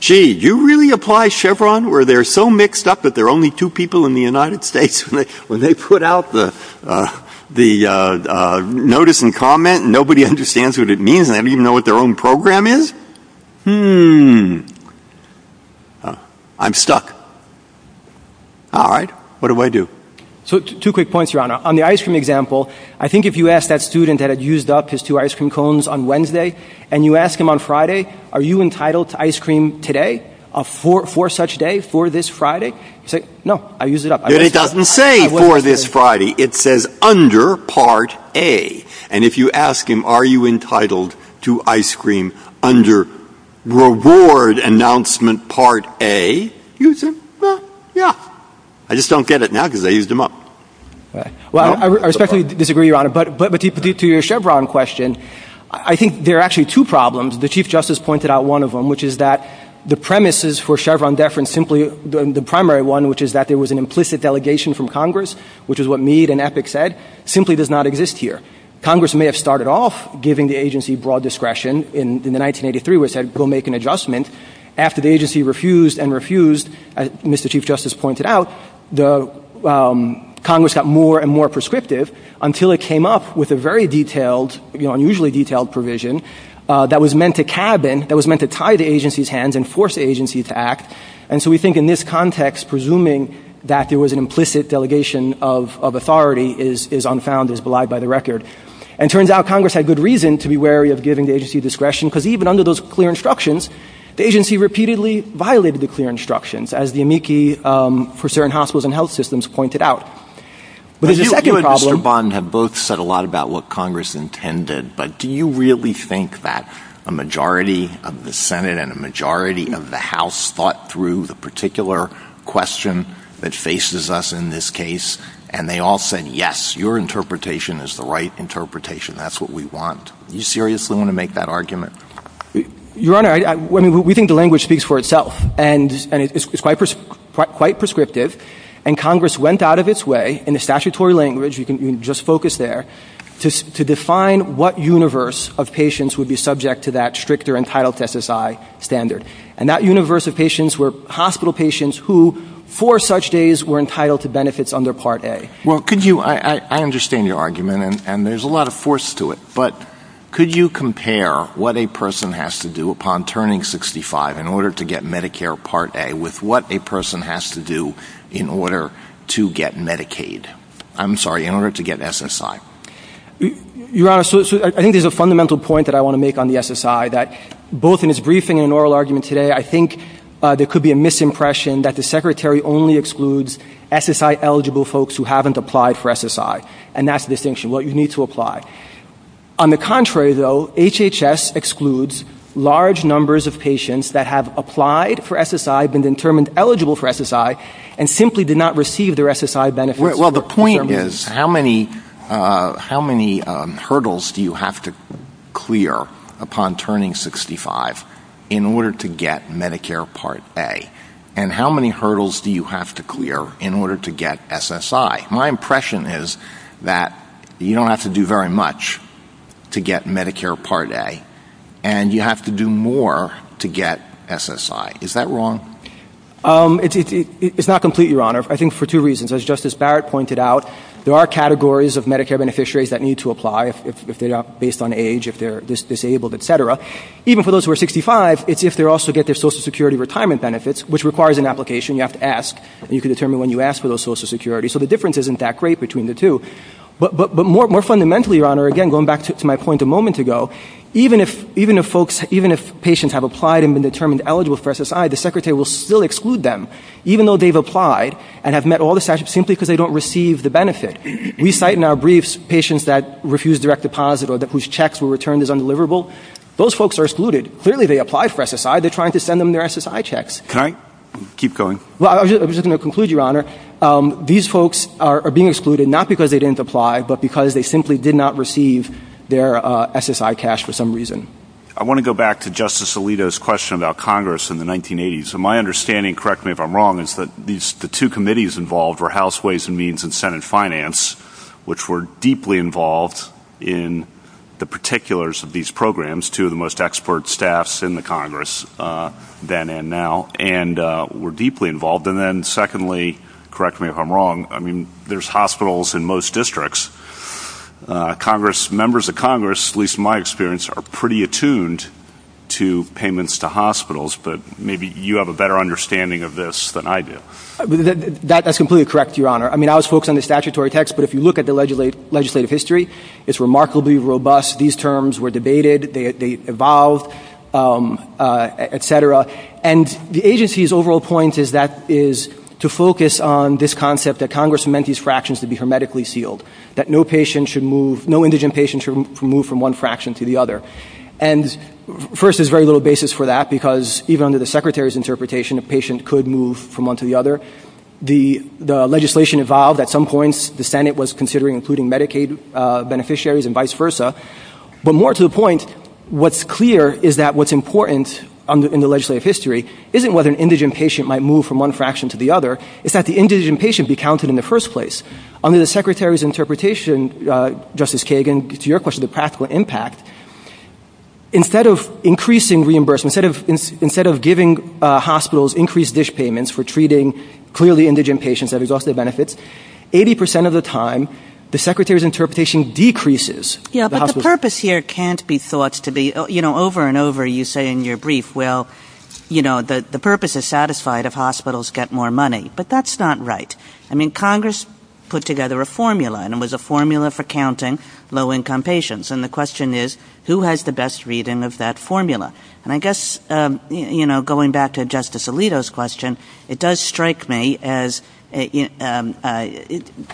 Gee, do you really apply Chevron where they're so mixed up that there are only two people in the United States when they put out the notice and comment and nobody understands what it means and they don't even know what their own program is? Hmm. I'm stuck. All right. What do I do? So two quick points, Your Honor. On the ice cream example, I think if you asked that student that had used up his two ice cream cones on Wednesday and you ask him on Friday, are you entitled to ice cream today for such day, for this Friday? He'd say, no, I used it up. But it doesn't say for this Friday. It says under Part A. And if you ask him, are you entitled to ice cream under reward announcement Part A, he'd say, well, yeah. I just don't get it now because I used them up. Well, I respectfully disagree, Your Honor. But to your Chevron question, I think there are actually two problems. The Chief Justice pointed out one of them, which is that the premises for Chevron deference, simply the primary one, which is that there was an implicit delegation from Congress, which is what Mead and Epic said, simply does not exist here. Congress may have started off giving the agency broad discretion in the 1983 where it said go make an adjustment. After the agency refused and refused, as Mr. Chief Justice pointed out, Congress got more and more prescriptive until it came up with a very detailed, unusually detailed provision that was meant to cabin, that was meant to tie the agency's hands and force the agency to act. And so we think in this context, presuming that there was an implicit delegation of authority is unfound, is belied by the record. And it turns out Congress had good reason to be wary of giving the agency discretion because even under those clear instructions, the agency repeatedly violated the clear instructions, as the amici for certain hospitals and health systems pointed out. You and Mr. Bond have both said a lot about what Congress intended, but do you really think that a majority of the Senate and a majority of the House thought through the particular question that faces us in this case, and they all said, yes, your interpretation is the right interpretation. That's what we want. Do you seriously want to make that argument? Your Honor, we think the language speaks for itself, and it's quite prescriptive, and Congress went out of its way in a statutory language, you can just focus there, to define what universe of patients would be subject to that stricter entitled SSI standard. And that universe of patients were hospital patients who, for such days, were entitled to benefits under Part A. Well, could you, I understand your argument, and there's a lot of force to it, but could you compare what a person has to do upon turning 65 in order to get Medicare Part A with what a person has to do in order to get Medicaid. I'm sorry, in order to get SSI. Your Honor, I think there's a fundamental point that I want to make on the SSI, that both in its briefing and oral argument today, I think there could be a misimpression that the Secretary only excludes SSI-eligible folks who haven't applied for SSI, and that's the distinction, what you need to apply. On the contrary, though, HHS excludes large numbers of patients that have applied for SSI, been determined eligible for SSI, and simply did not receive their SSI benefits. Well, the point is, how many hurdles do you have to clear upon turning 65 in order to get Medicare Part A? And how many hurdles do you have to clear in order to get SSI? My impression is that you don't have to do very much to get Medicare Part A, and you have to do more to get SSI. Is that wrong? It's not complete, Your Honor, I think for two reasons. As Justice Barrett pointed out, there are categories of Medicare beneficiaries that need to apply, if they are based on age, if they're disabled, etc. Even for those who are 65, it's if they also get their Social Security retirement benefits, which requires an application, you have to ask, and you can determine when you ask for those Social Securities, so the difference isn't that great between the two. But more fundamentally, Your Honor, again, going back to my point a moment ago, even if patients have applied and been determined eligible for SSI, the Secretary will still exclude them, even though they've applied and have met all the statutes simply because they don't receive the benefit. We cite in our briefs patients that refuse direct deposit or whose checks were returned as undeliverable. Those folks are excluded. Clearly, they applied for SSI. They're trying to send them their SSI checks. Can I keep going? Well, I was just going to conclude, Your Honor, these folks are being excluded, not because they didn't apply, but because they simply did not receive their SSI cash for some reason. I want to go back to Justice Alito's question about Congress in the 1980s. My understanding, correct me if I'm wrong, is that the two committees involved were House Ways and Means and Senate Finance, which were deeply involved in the particulars of these programs, two of the most expert staffs in the Congress then and now, and were deeply involved. And then, secondly, correct me if I'm wrong, I mean, there's hospitals in most districts. Members of Congress, at least in my experience, are pretty attuned to payments to hospitals, but maybe you have a better understanding of this than I do. That's completely correct, Your Honor. I mean, I was focused on the statutory text, but if you look at the legislative history, it's remarkably robust. These terms were debated. They evolved, et cetera. And the agency's overall point is to focus on this concept that Congress meant these fractions to be hermetically sealed, that no indigent patient should move from one fraction to the other. And first, there's very little basis for that because even under the Secretary's interpretation, a patient could move from one to the other. The legislation evolved at some points. The Senate was considering including Medicaid beneficiaries and vice versa. But more to the point, what's clear is that what's important in the legislative history isn't whether an indigent patient might move from one fraction to the other. It's that the indigent patient be counted in the first place. Under the Secretary's interpretation, Justice Kagan, to your question, the practical impact, instead of increasing reimbursement, instead of giving hospitals increased dish payments for treating clearly indigent patients that exhaust their benefits, 80% of the time, the Secretary's interpretation decreases. Yeah, but the purpose here can't be thought to be, you know, over and over you say in your brief, well, you know, the purpose is satisfied if hospitals get more money. But that's not right. I mean, Congress put together a formula, and it was a formula for counting low-income patients. And the question is, who has the best reading of that formula? And I guess, you know, going back to Justice Alito's question, it does strike me as, I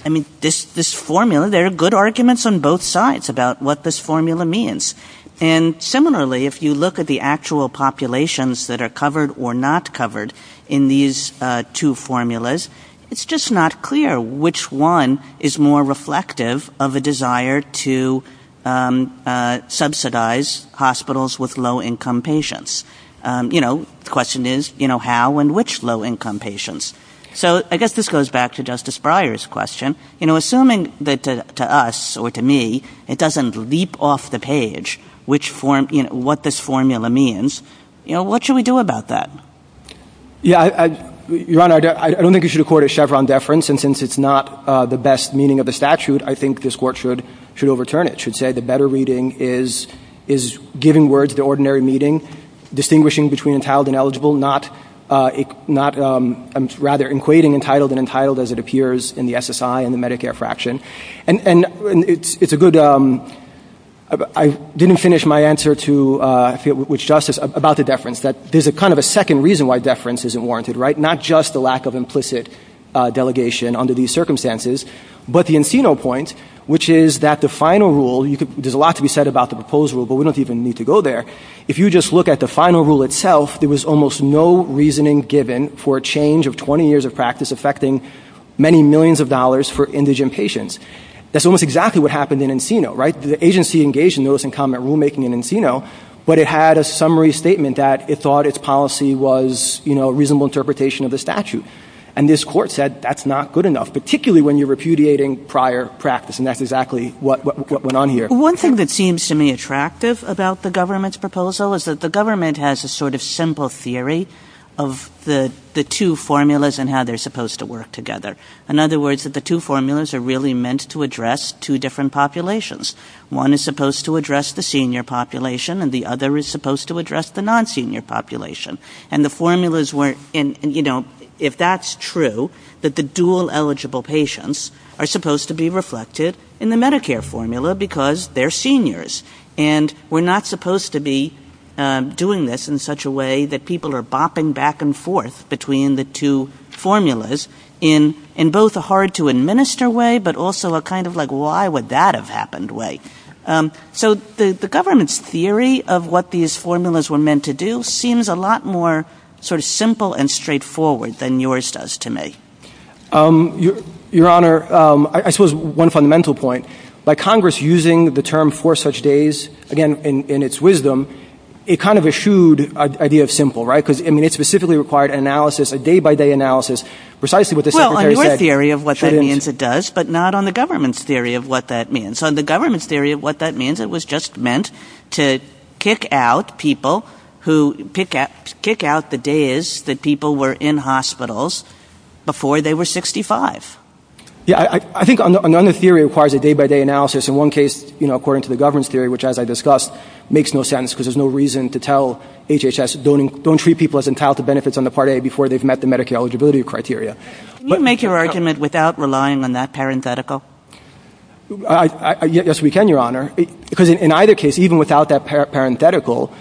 mean, this formula, there are good arguments on both sides about what this formula means. And similarly, if you look at the actual populations that are covered or not covered in these two formulas, it's just not clear which one is more reflective of a desire to subsidize hospitals with low-income patients. You know, the question is, you know, how and which low-income patients? So I guess this goes back to Justice Breyer's question. You know, assuming that to us or to me, it doesn't leap off the page what this formula means, you know, what should we do about that? Yeah, Your Honor, I don't think you should accord a Chevron deference. And since it's not the best meaning of the statute, I think this Court should overturn it, should say the better reading is giving words to ordinary meeting, distinguishing between entitled and eligible, not rather equating entitled and untitled as it appears in the SSI and the Medicare fraction. And it's a good ‑‑ I didn't finish my answer to Justice about the deference, that there's a kind of a second reason why deference isn't warranted, right? Not just the lack of implicit delegation under these circumstances, but the Encino point, which is that the final rule, there's a lot to be said about the proposed rule, but we don't even need to go there. If you just look at the final rule itself, there was almost no reasoning given for a change of 20 years of practice affecting many millions of dollars for indigent patients. That's almost exactly what happened in Encino, right? The agency engaged in notice and comment rulemaking in Encino, but it had a summary statement that it thought its policy was a reasonable interpretation of the statute. And this Court said that's not good enough, particularly when you're repudiating prior practice, and that's exactly what went on here. One thing that seems to me attractive about the government's proposal is that the government has a sort of simple theory of the two formulas and how they're supposed to work together. In other words, that the two formulas are really meant to address two different populations. One is supposed to address the senior population, and the other is supposed to address the non-senior population. And the formulas weren't, you know, if that's true, that the dual eligible patients are supposed to be reflected in the Medicare formula because they're seniors. And we're not supposed to be doing this in such a way that people are bopping back and forth between the two formulas in both a hard-to-administer way, but also a kind of like why would that have happened way. So the government's theory of what these formulas were meant to do seems a lot more sort of simple and straightforward than yours does to me. Your Honor, I suppose one fundamental point. By Congress using the term four such days, again, in its wisdom, it kind of eschewed the idea of simple, right? Because, I mean, it specifically required analysis, a day-by-day analysis, precisely what the Secretary said. Well, on your theory of what that means, it does, but not on the government's theory of what that means. On the government's theory of what that means, it was just meant to kick out people who, kick out the days that people were in hospitals before they were 65. Yeah, I think another theory requires a day-by-day analysis. In one case, you know, according to the government's theory, which, as I discussed, makes no sense because there's no reason to tell HHS don't treat people as entitled to benefits on the part A before they've met the Medicare eligibility criteria. Can you make your argument without relying on that parenthetical? Yes, we can, Your Honor. Because in either case, even without that parenthetical,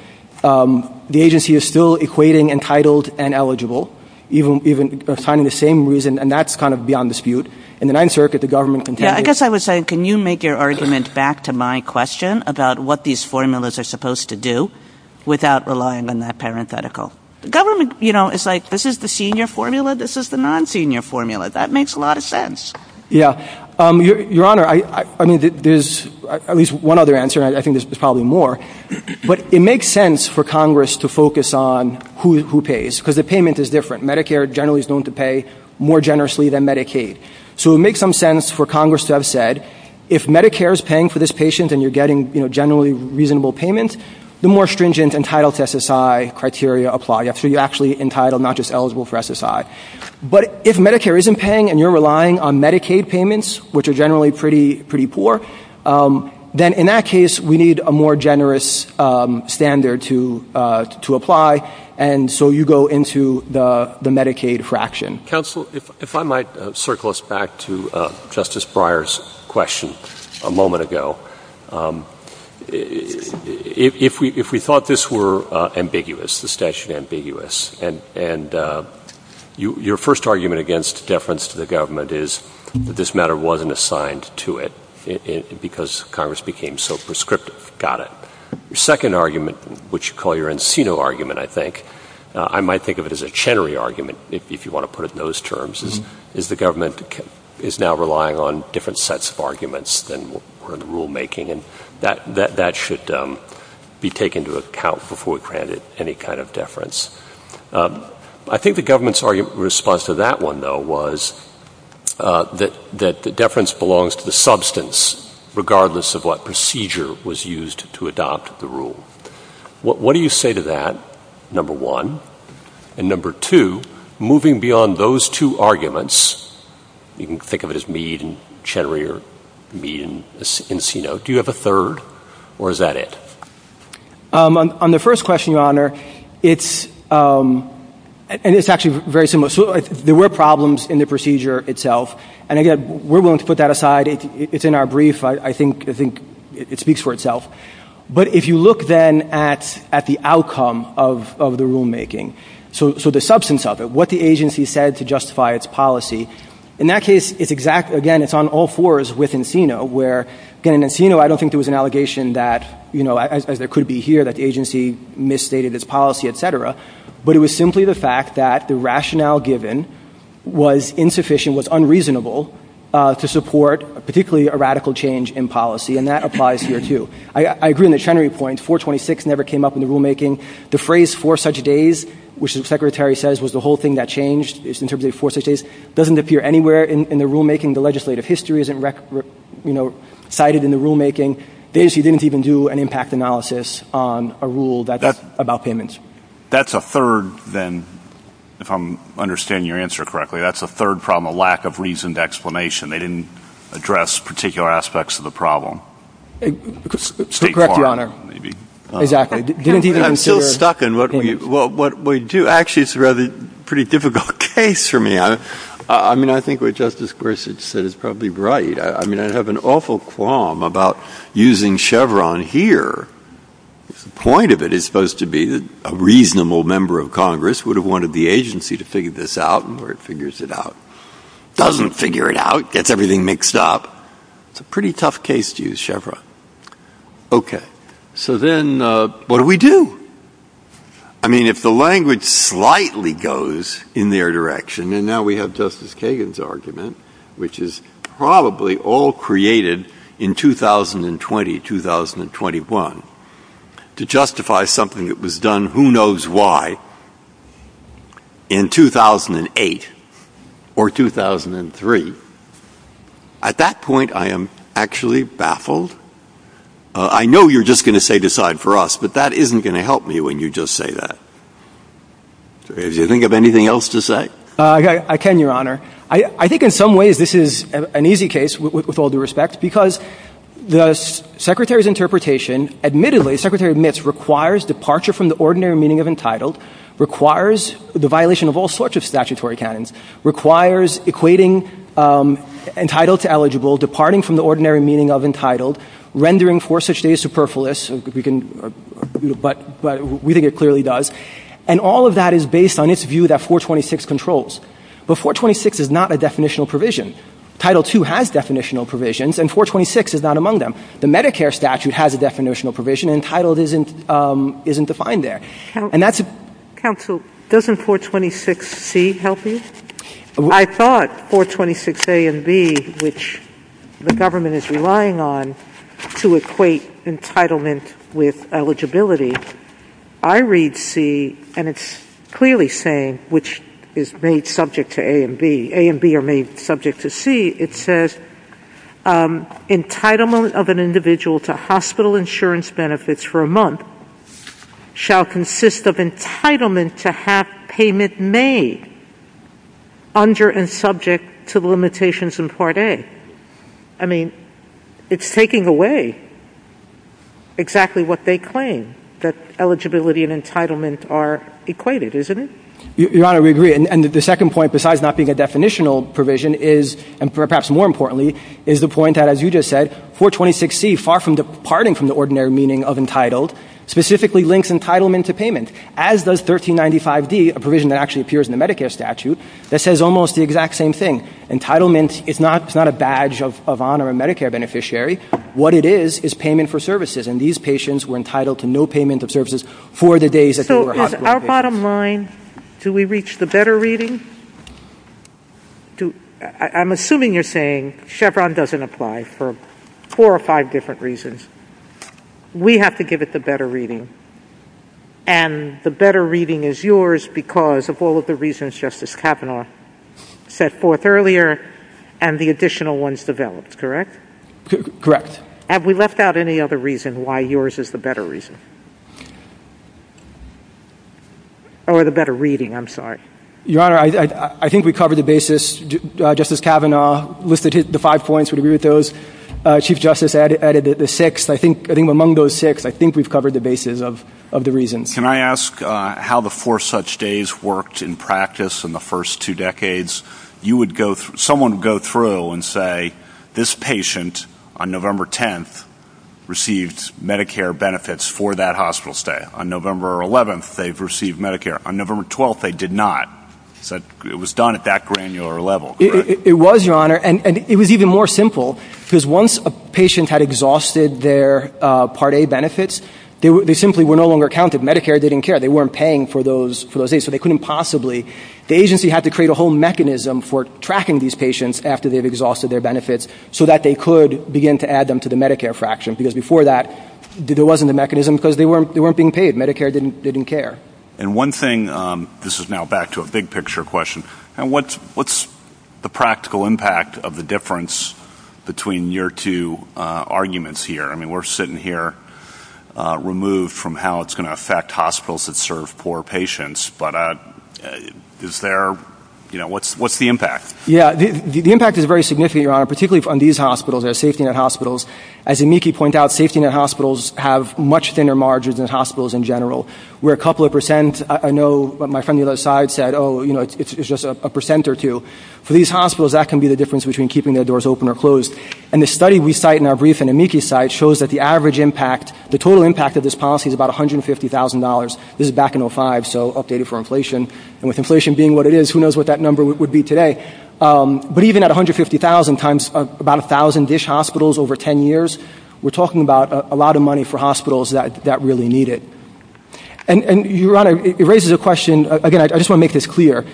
the agency is still equating entitled and eligible, even finding the same reason, and that's kind of beyond dispute. In the Ninth Circuit, the government continues. Yeah, I guess I would say, can you make your argument back to my question about what these formulas are supposed to do without relying on that parenthetical? The government, you know, is like, this is the senior formula, this is the non-senior formula. That makes a lot of sense. Yeah. Your Honor, I mean, there's at least one other answer, and I think there's probably more, but it makes sense for Congress to focus on who pays because the payment is different. Medicare generally is known to pay more generously than Medicaid. So it makes some sense for Congress to have said, if Medicare is paying for this patient and you're getting, you know, generally reasonable payment, the more stringent entitled to SSI criteria apply. So you're actually entitled, not just eligible for SSI. But if Medicare isn't paying and you're relying on Medicaid payments, which are generally pretty poor, then in that case we need a more generous standard to apply, and so you go into the Medicaid fraction. Counsel, if I might circle us back to Justice Breyer's question a moment ago. If we thought this were ambiguous, this statute ambiguous, and your first argument against deference to the government is that this matter wasn't assigned to it because Congress became so prescriptive. Got it. Your second argument, which you call your Encino argument, I think, I might think of it as a Chenery argument, if you want to put it in those terms, is the government is now relying on different sets of arguments than were in rulemaking, and that should be taken into account before we granted any kind of deference. I think the government's argument in response to that one, though, was that the deference belongs to the substance regardless of what procedure was used to adopt the rule. What do you say to that, number one? And number two, moving beyond those two arguments, you can think of it as Meade and Chenery or Meade and Encino, do you have a third, or is that it? On the first question, Your Honor, it's actually very similar. There were problems in the procedure itself, and again, we're willing to put that aside. It's in our brief. I think it speaks for itself. But if you look, then, at the outcome of the rulemaking, so the substance of it, what the agency said to justify its policy, in that case, again, it's on all fours with Encino, where, again, Encino, I don't think there was an allegation that, as it could be here, that the agency misstated its policy, et cetera, but it was simply the fact that the rationale given was insufficient, was unreasonable, to support particularly a radical change in policy, and that applies here, too. I agree on the Chenery point. 426 never came up in the rulemaking. The phrase, four such days, which the Secretary says was the whole thing that changed, it's interpreted as four such days, doesn't appear anywhere in the rulemaking. The legislative history isn't cited in the rulemaking. The agency didn't even do an impact analysis on a rule about payments. That's a third, then, if I'm understanding your answer correctly, that's a third problem, a lack of reasoned explanation. They didn't address particular aspects of the problem. Correct your honor. Exactly. I'm still stuck in what we do. Actually, it's a rather pretty difficult case for me. I mean, I think what Justice Gorsuch said is probably right. I mean, I have an awful qualm about using Chevron here. The point of it is it's supposed to be a reasonable member of Congress who would have wanted the agency to figure this out and where it figures it out. It doesn't figure it out. It gets everything mixed up. It's a pretty tough case to use Chevron. Okay. So then what do we do? I mean, if the language slightly goes in their direction, and now we have Justice Kagan's argument, which is probably all created in 2020, 2021, to justify something that was done who knows why in 2008 or 2003, at that point I am actually baffled. I know you're just going to say decide for us, but that isn't going to help me when you just say that. Do you think of anything else to say? I can, your honor. I think in some ways this is an easy case with all due respect because the Secretary's interpretation, admittedly, the Secretary admits requires departure from the ordinary meaning of entitled, requires the violation of all sorts of statutory canons, requires equating entitled to eligible, departing from the ordinary meaning of entitled, rendering for such days superfluous, but we think it clearly does, and all of that is based on its view that 426 controls. But 426 is not a definitional provision. Title II has definitional provisions, and 426 is not among them. The Medicare statute has a definitional provision, and entitled isn't defined there. Counsel, doesn't 426C help you? I thought 426A and B, which the government is relying on, to equate entitlement with eligibility. I read C, and it's clearly saying, which is made subject to A and B. A and B are made subject to C. It says entitlement of an individual to hospital insurance benefits for a month shall consist of entitlement to have payment made under and subject to the limitations in Part A. I mean, it's taking away exactly what they claim, that eligibility and entitlement are equated, isn't it? Your Honor, we agree. And the second point, besides not being a definitional provision, and perhaps more importantly, is the point that, as you just said, 426C, far from departing from the ordinary meaning of entitled, specifically links entitlement to payment, as does 1395D, a provision that actually appears in the Medicare statute, that says almost the exact same thing. Entitlement is not a badge of honor of a Medicare beneficiary. What it is is payment for services, and these patients were entitled to no payment of services for the days that they were hospitalized. So, on our bottom line, do we reach the better reading? I'm assuming you're saying Chevron doesn't apply for four or five different reasons. We have to give it the better reading, and the better reading is yours because of all of the reasons Justice Kavanaugh set forth earlier, and the additional ones developed, correct? Correct. Have we left out any other reason why yours is the better reason? Or the better reading, I'm sorry. Your Honor, I think we covered the basis. Justice Kavanaugh listed the five points. We agree with those. Chief Justice added the sixth. I think among those six, I think we've covered the basis of the reasons. Can I ask how the four such days worked in practice in the first two decades? Someone would go through and say, this patient, on November 10th, received Medicare benefits for that hospital stay. On November 11th, they've received Medicare. On November 12th, they did not. It was done at that granular level. It was, Your Honor, and it was even more simple because once a patient had exhausted their Part A benefits, they simply were no longer counted. Medicare didn't care. They weren't paying for those A's, so they couldn't possibly. The agency had to create a whole mechanism for tracking these patients after they've exhausted their benefits so that they could begin to add them to the Medicare fraction because before that, there wasn't a mechanism because they weren't being paid. Medicare didn't care. And one thing, this is now back to a big-picture question, what's the practical impact of the difference between your two arguments here? I mean, we're sitting here removed from how it's going to affect hospitals that serve poor patients, but is there, you know, what's the impact? Yeah, the impact is very significant, Your Honor, particularly on these hospitals, their safety net hospitals. As Amiki pointed out, safety net hospitals have much thinner margins than hospitals in general. We're a couple of percent. I know my friend on the other side said, oh, you know, it's just a percent or two. For these hospitals, that can be the difference between keeping their doors open or closed. And the study we cite in our brief in Amiki's site shows that the average impact, the total impact of this policy is about $150,000. This is back in 2005, so updated for inflation. And with inflation being what it is, who knows what that number would be today. But even at 150,000 times about 1,000-ish hospitals over 10 years, we're talking about a lot of money for hospitals that really need it. And, Your Honor, it raises a question, again, I just want to make this clear,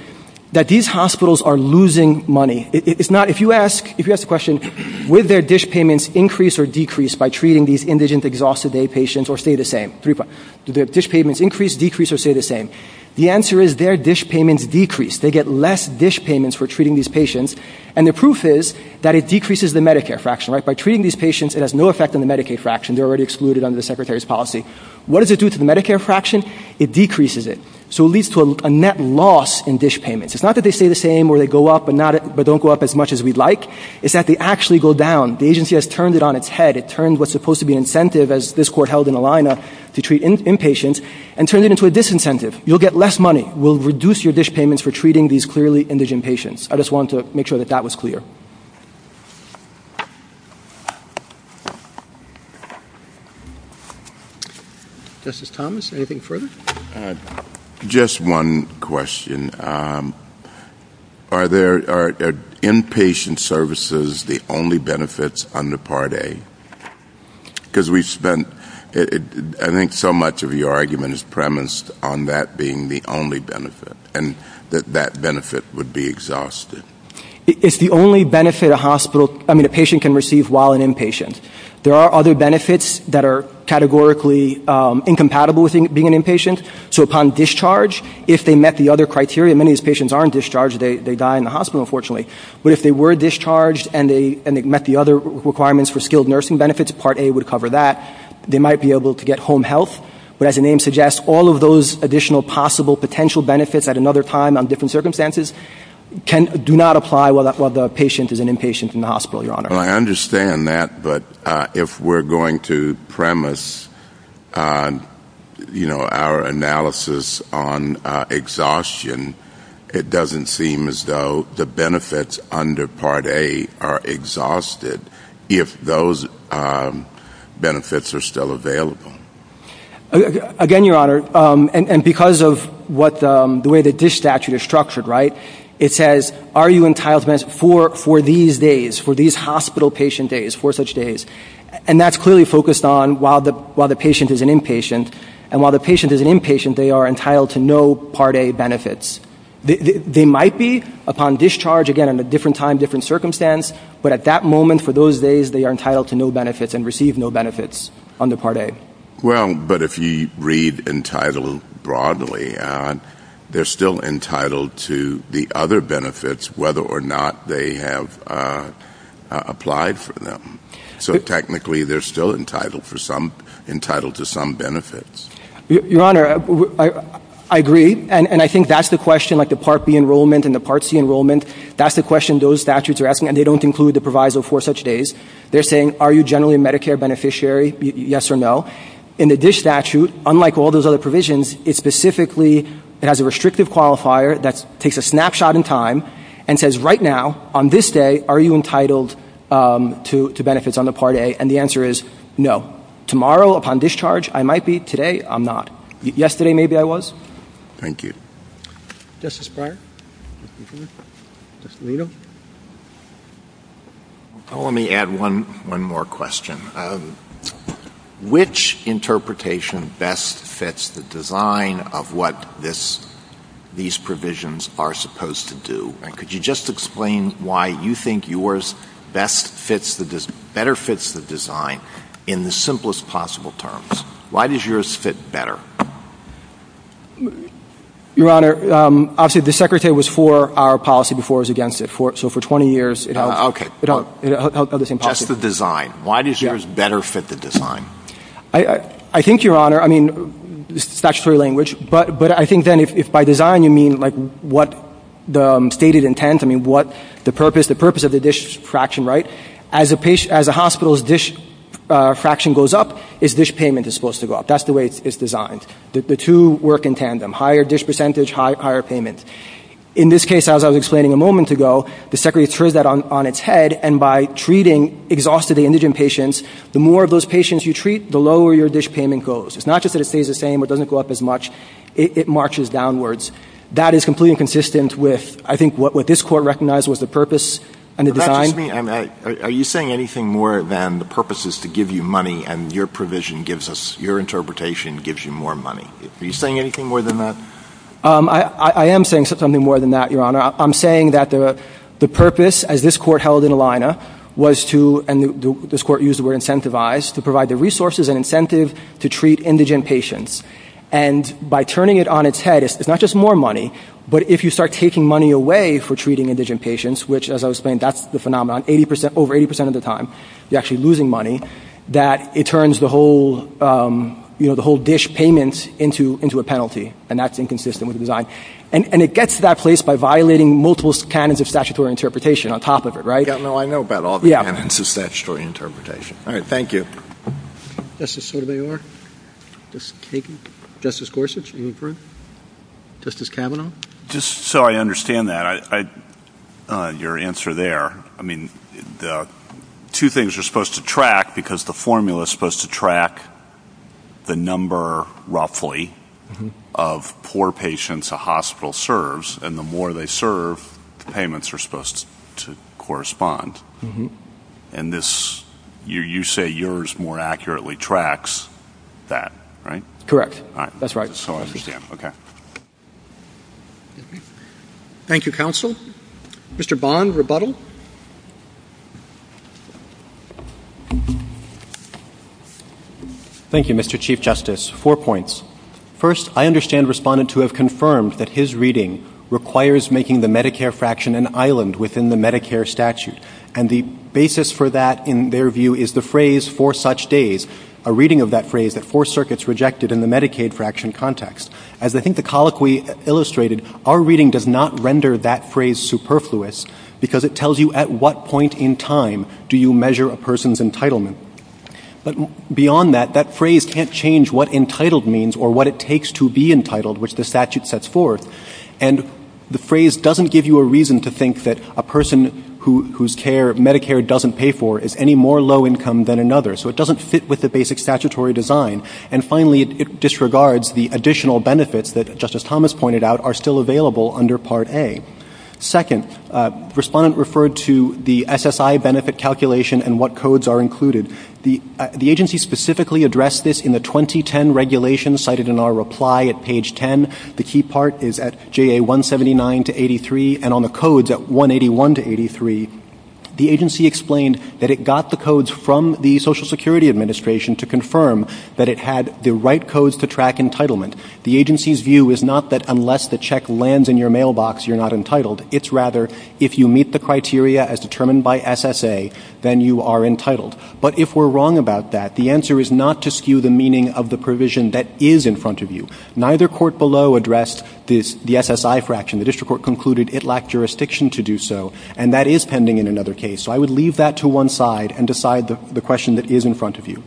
that these hospitals are losing money. It's not, if you ask, if you ask the question, would their dish payments increase or decrease by treating these indigent, exhausted day patients, or stay the same? Do their dish payments increase, decrease, or stay the same? The answer is their dish payments decrease. They get less dish payments for treating these patients. And the proof is that it decreases the Medicare fraction, right? By treating these patients, it has no effect on the Medicaid fraction. They're already excluded under the Secretary's policy. What does it do to the Medicare fraction? It decreases it. So it leads to a net loss in dish payments. It's not that they stay the same, or they go up, but don't go up as much as we'd like. It's that they actually go down. The agency has turned it on its head. It turned what's supposed to be an incentive, as this court held in Alina, to treat inpatients, and turned it into a disincentive. You'll get less money. We'll reduce your dish payments for treating these clearly indigent patients. I just wanted to make sure that that was clear. Thank you. Justice Thomas, anything further? Just one question. Are inpatient services the only benefits under Part A? Because I think so much of your argument is premised on that being the only benefit, and that that benefit would be exhausted. It's the only benefit a patient can receive while an inpatient. There are other benefits that are categorically incompatible with being an inpatient. So upon discharge, if they met the other criteria, many of these patients aren't discharged, they die in the hospital, unfortunately. But if they were discharged and they met the other requirements for skilled nursing benefits, Part A would cover that. They might be able to get home health. But as the name suggests, all of those additional possible potential benefits at another time do not apply while the patient is an inpatient in the hospital, Your Honor. I understand that, but if we're going to premise our analysis on exhaustion, it doesn't seem as though the benefits under Part A are exhausted if those benefits are still available. Again, Your Honor, and because of the way the DISH statute is structured, it says are you entitled to benefits for these days, for these hospital patient days, for such days. And that's clearly focused on while the patient is an inpatient. And while the patient is an inpatient, they are entitled to no Part A benefits. They might be upon discharge, again, in a different time, different circumstance. But at that moment, for those days, they are entitled to no benefits and receive no benefits under Part A. Well, but if you read entitled broadly, they're still entitled to the other benefits, whether or not they have applied for them. So technically, they're still entitled to some benefits. Your Honor, I agree. And I think that's the question, like the Part B enrollment and the Part C enrollment. That's the question those statutes are asking, and they don't include the proviso for such days. They're saying are you generally a Medicare beneficiary, yes or no? In the DISH statute, unlike all those other provisions, it specifically has a restrictive qualifier that takes a snapshot in time and says right now, on this day, are you entitled to benefits under Part A? And the answer is no. Tomorrow, upon discharge, I might be. Today, I'm not. Yesterday, maybe I was. Thank you. Justice Breyer? Justice Alito? Let me add one more question. Which interpretation best fits the design of what these provisions are supposed to do? And could you just explain why you think yours better fits the design in the simplest possible terms? Why does yours fit better? Your Honor, obviously the Secretary was for our policy before it was against it. So for 20 years, it held the same policy. Okay. That's the design. Why does yours better fit the design? I think, Your Honor, I mean, statutory language, but I think then if by design you mean like what the stated intent, I mean what the purpose, the purpose of the DISH fraction, right? As a hospital's DISH fraction goes up, its DISH payment is supposed to go up. That's the way it's designed. The two work in tandem. Higher DISH percentage, higher payment. In this case, as I was explaining a moment ago, the Secretary threw that on its head, and by treating exhausted indigent patients, the more of those patients you treat, the lower your DISH payment goes. It's not just that it stays the same, it doesn't go up as much. It marches downwards. That is completely inconsistent with, I think, what this Court recognized was the purpose and the design. Excuse me. Are you saying anything more than the purpose is to give you money and your provision gives us, your interpretation gives you more money? Are you saying anything more than that? I am saying something more than that, Your Honor. I'm saying that the purpose, as this Court held in Alina, was to, and this Court used the word incentivized, to provide the resources and incentive to treat indigent patients. And by turning it on its head, it's not just more money, but if you start taking money away for treating indigent patients, which, as I was saying, that's the phenomenon, over 80% of the time, you're actually losing money, that it turns the whole DISH payment into a penalty, and that's inconsistent with the design. And it gets to that place by violating multiple canons of statutory interpretation on top of it, right? Yeah, no, I know about all the canons of statutory interpretation. All right, thank you. Justice Sotomayor? Thank you. Justice Gorsuch? Justice Kavanaugh? Just so I understand that, your answer there, I mean, two things you're supposed to track, because the formula is supposed to track the number, roughly, of poor patients a hospital serves, and the more they serve, the payments are supposed to correspond. And this, you say yours more accurately tracks that, right? Correct. That's right. Okay. Thank you, counsel. Mr. Bond, rebuttal? Thank you, Mr. Chief Justice. Four points. First, I understand Respondent to have confirmed that his reading requires making the Medicare fraction an island within the Medicare statute, a reading of that phrase that four circuits rejected in the Medicaid fraction context. As I think the colloquy illustrated, our reading does not render that phrase superfluous, because it tells you at what point in time do you measure a person's entitlement. But beyond that, that phrase can't change what entitled means or what it takes to be entitled, which the statute sets forth. And the phrase doesn't give you a reason to think that a person whose Medicare doesn't pay for is any more low income than another. So it doesn't fit with the basic statutory design. And finally, it disregards the additional benefits that Justice Thomas pointed out are still available under Part A. Second, Respondent referred to the SSI benefit calculation and what codes are included. The agency specifically addressed this in the 2010 regulation cited in our reply at page 10. The key part is at JA 179 to 83, and on the codes at 181 to 83, the agency explained that it got the codes from the Social Security Administration to confirm that it had the right codes to track entitlement. The agency's view is not that unless the check lands in your mailbox, you're not entitled. It's rather if you meet the criteria as determined by SSA, then you are entitled. But if we're wrong about that, the answer is not to skew the meaning of the provision that is in front of you. Neither court below addressed the SSI fraction. The district court concluded it lacked jurisdiction to do so, and that is pending in another case. So I would leave that to one side and decide the question that is in front of you.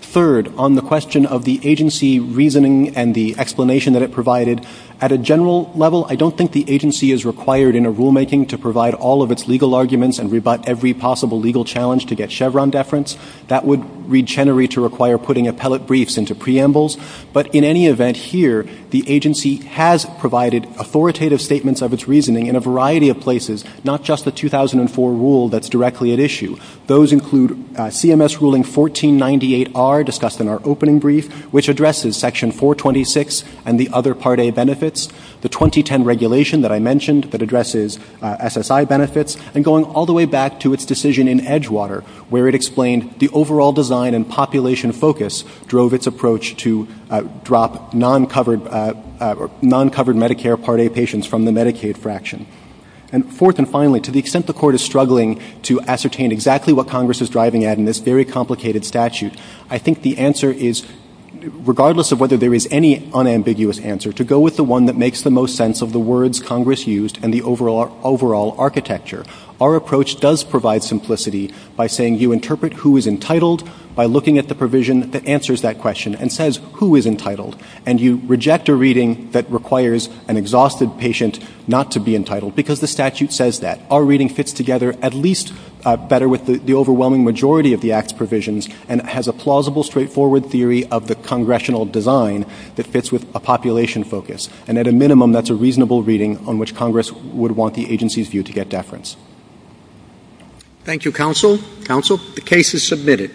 Third, on the question of the agency reasoning and the explanation that it provided, at a general level, I don't think the agency is required in a rulemaking to provide all of its legal arguments and rebut every possible legal challenge to get Chevron deference. That would regenerate to require putting appellate briefs into preambles. But in any event here, the agency has provided authoritative statements of its reasoning in a variety of places, not just the 2004 rule that's directly at issue. Those include CMS Ruling 1498R, discussed in our opening brief, which addresses Section 426 and the other Part A benefits, the 2010 regulation that I mentioned that addresses SSI benefits, and going all the way back to its decision in Edgewater, where it explained the overall design and population focus drove its approach to drop non-covered Medicare Part A patients from the Medicaid fraction. And fourth and finally, to the extent the Court is struggling to ascertain exactly what Congress is driving at in this very complicated statute, I think the answer is, regardless of whether there is any unambiguous answer, to go with the one that makes the most sense of the words Congress used and the overall architecture. Our approach does provide simplicity by saying you interpret who is entitled by looking at the provision that answers that question and says who is entitled, and you reject a reading that requires an exhausted patient not to be entitled because the statute says that. Our reading fits together at least better with the overwhelming majority of the Act's provisions and has a plausible, straightforward theory of the congressional design that fits with a population focus. And at a minimum, that's a reasonable reading on which Congress would want the agency's view to get deference. Thank you, Counsel. Counsel, the case is submitted.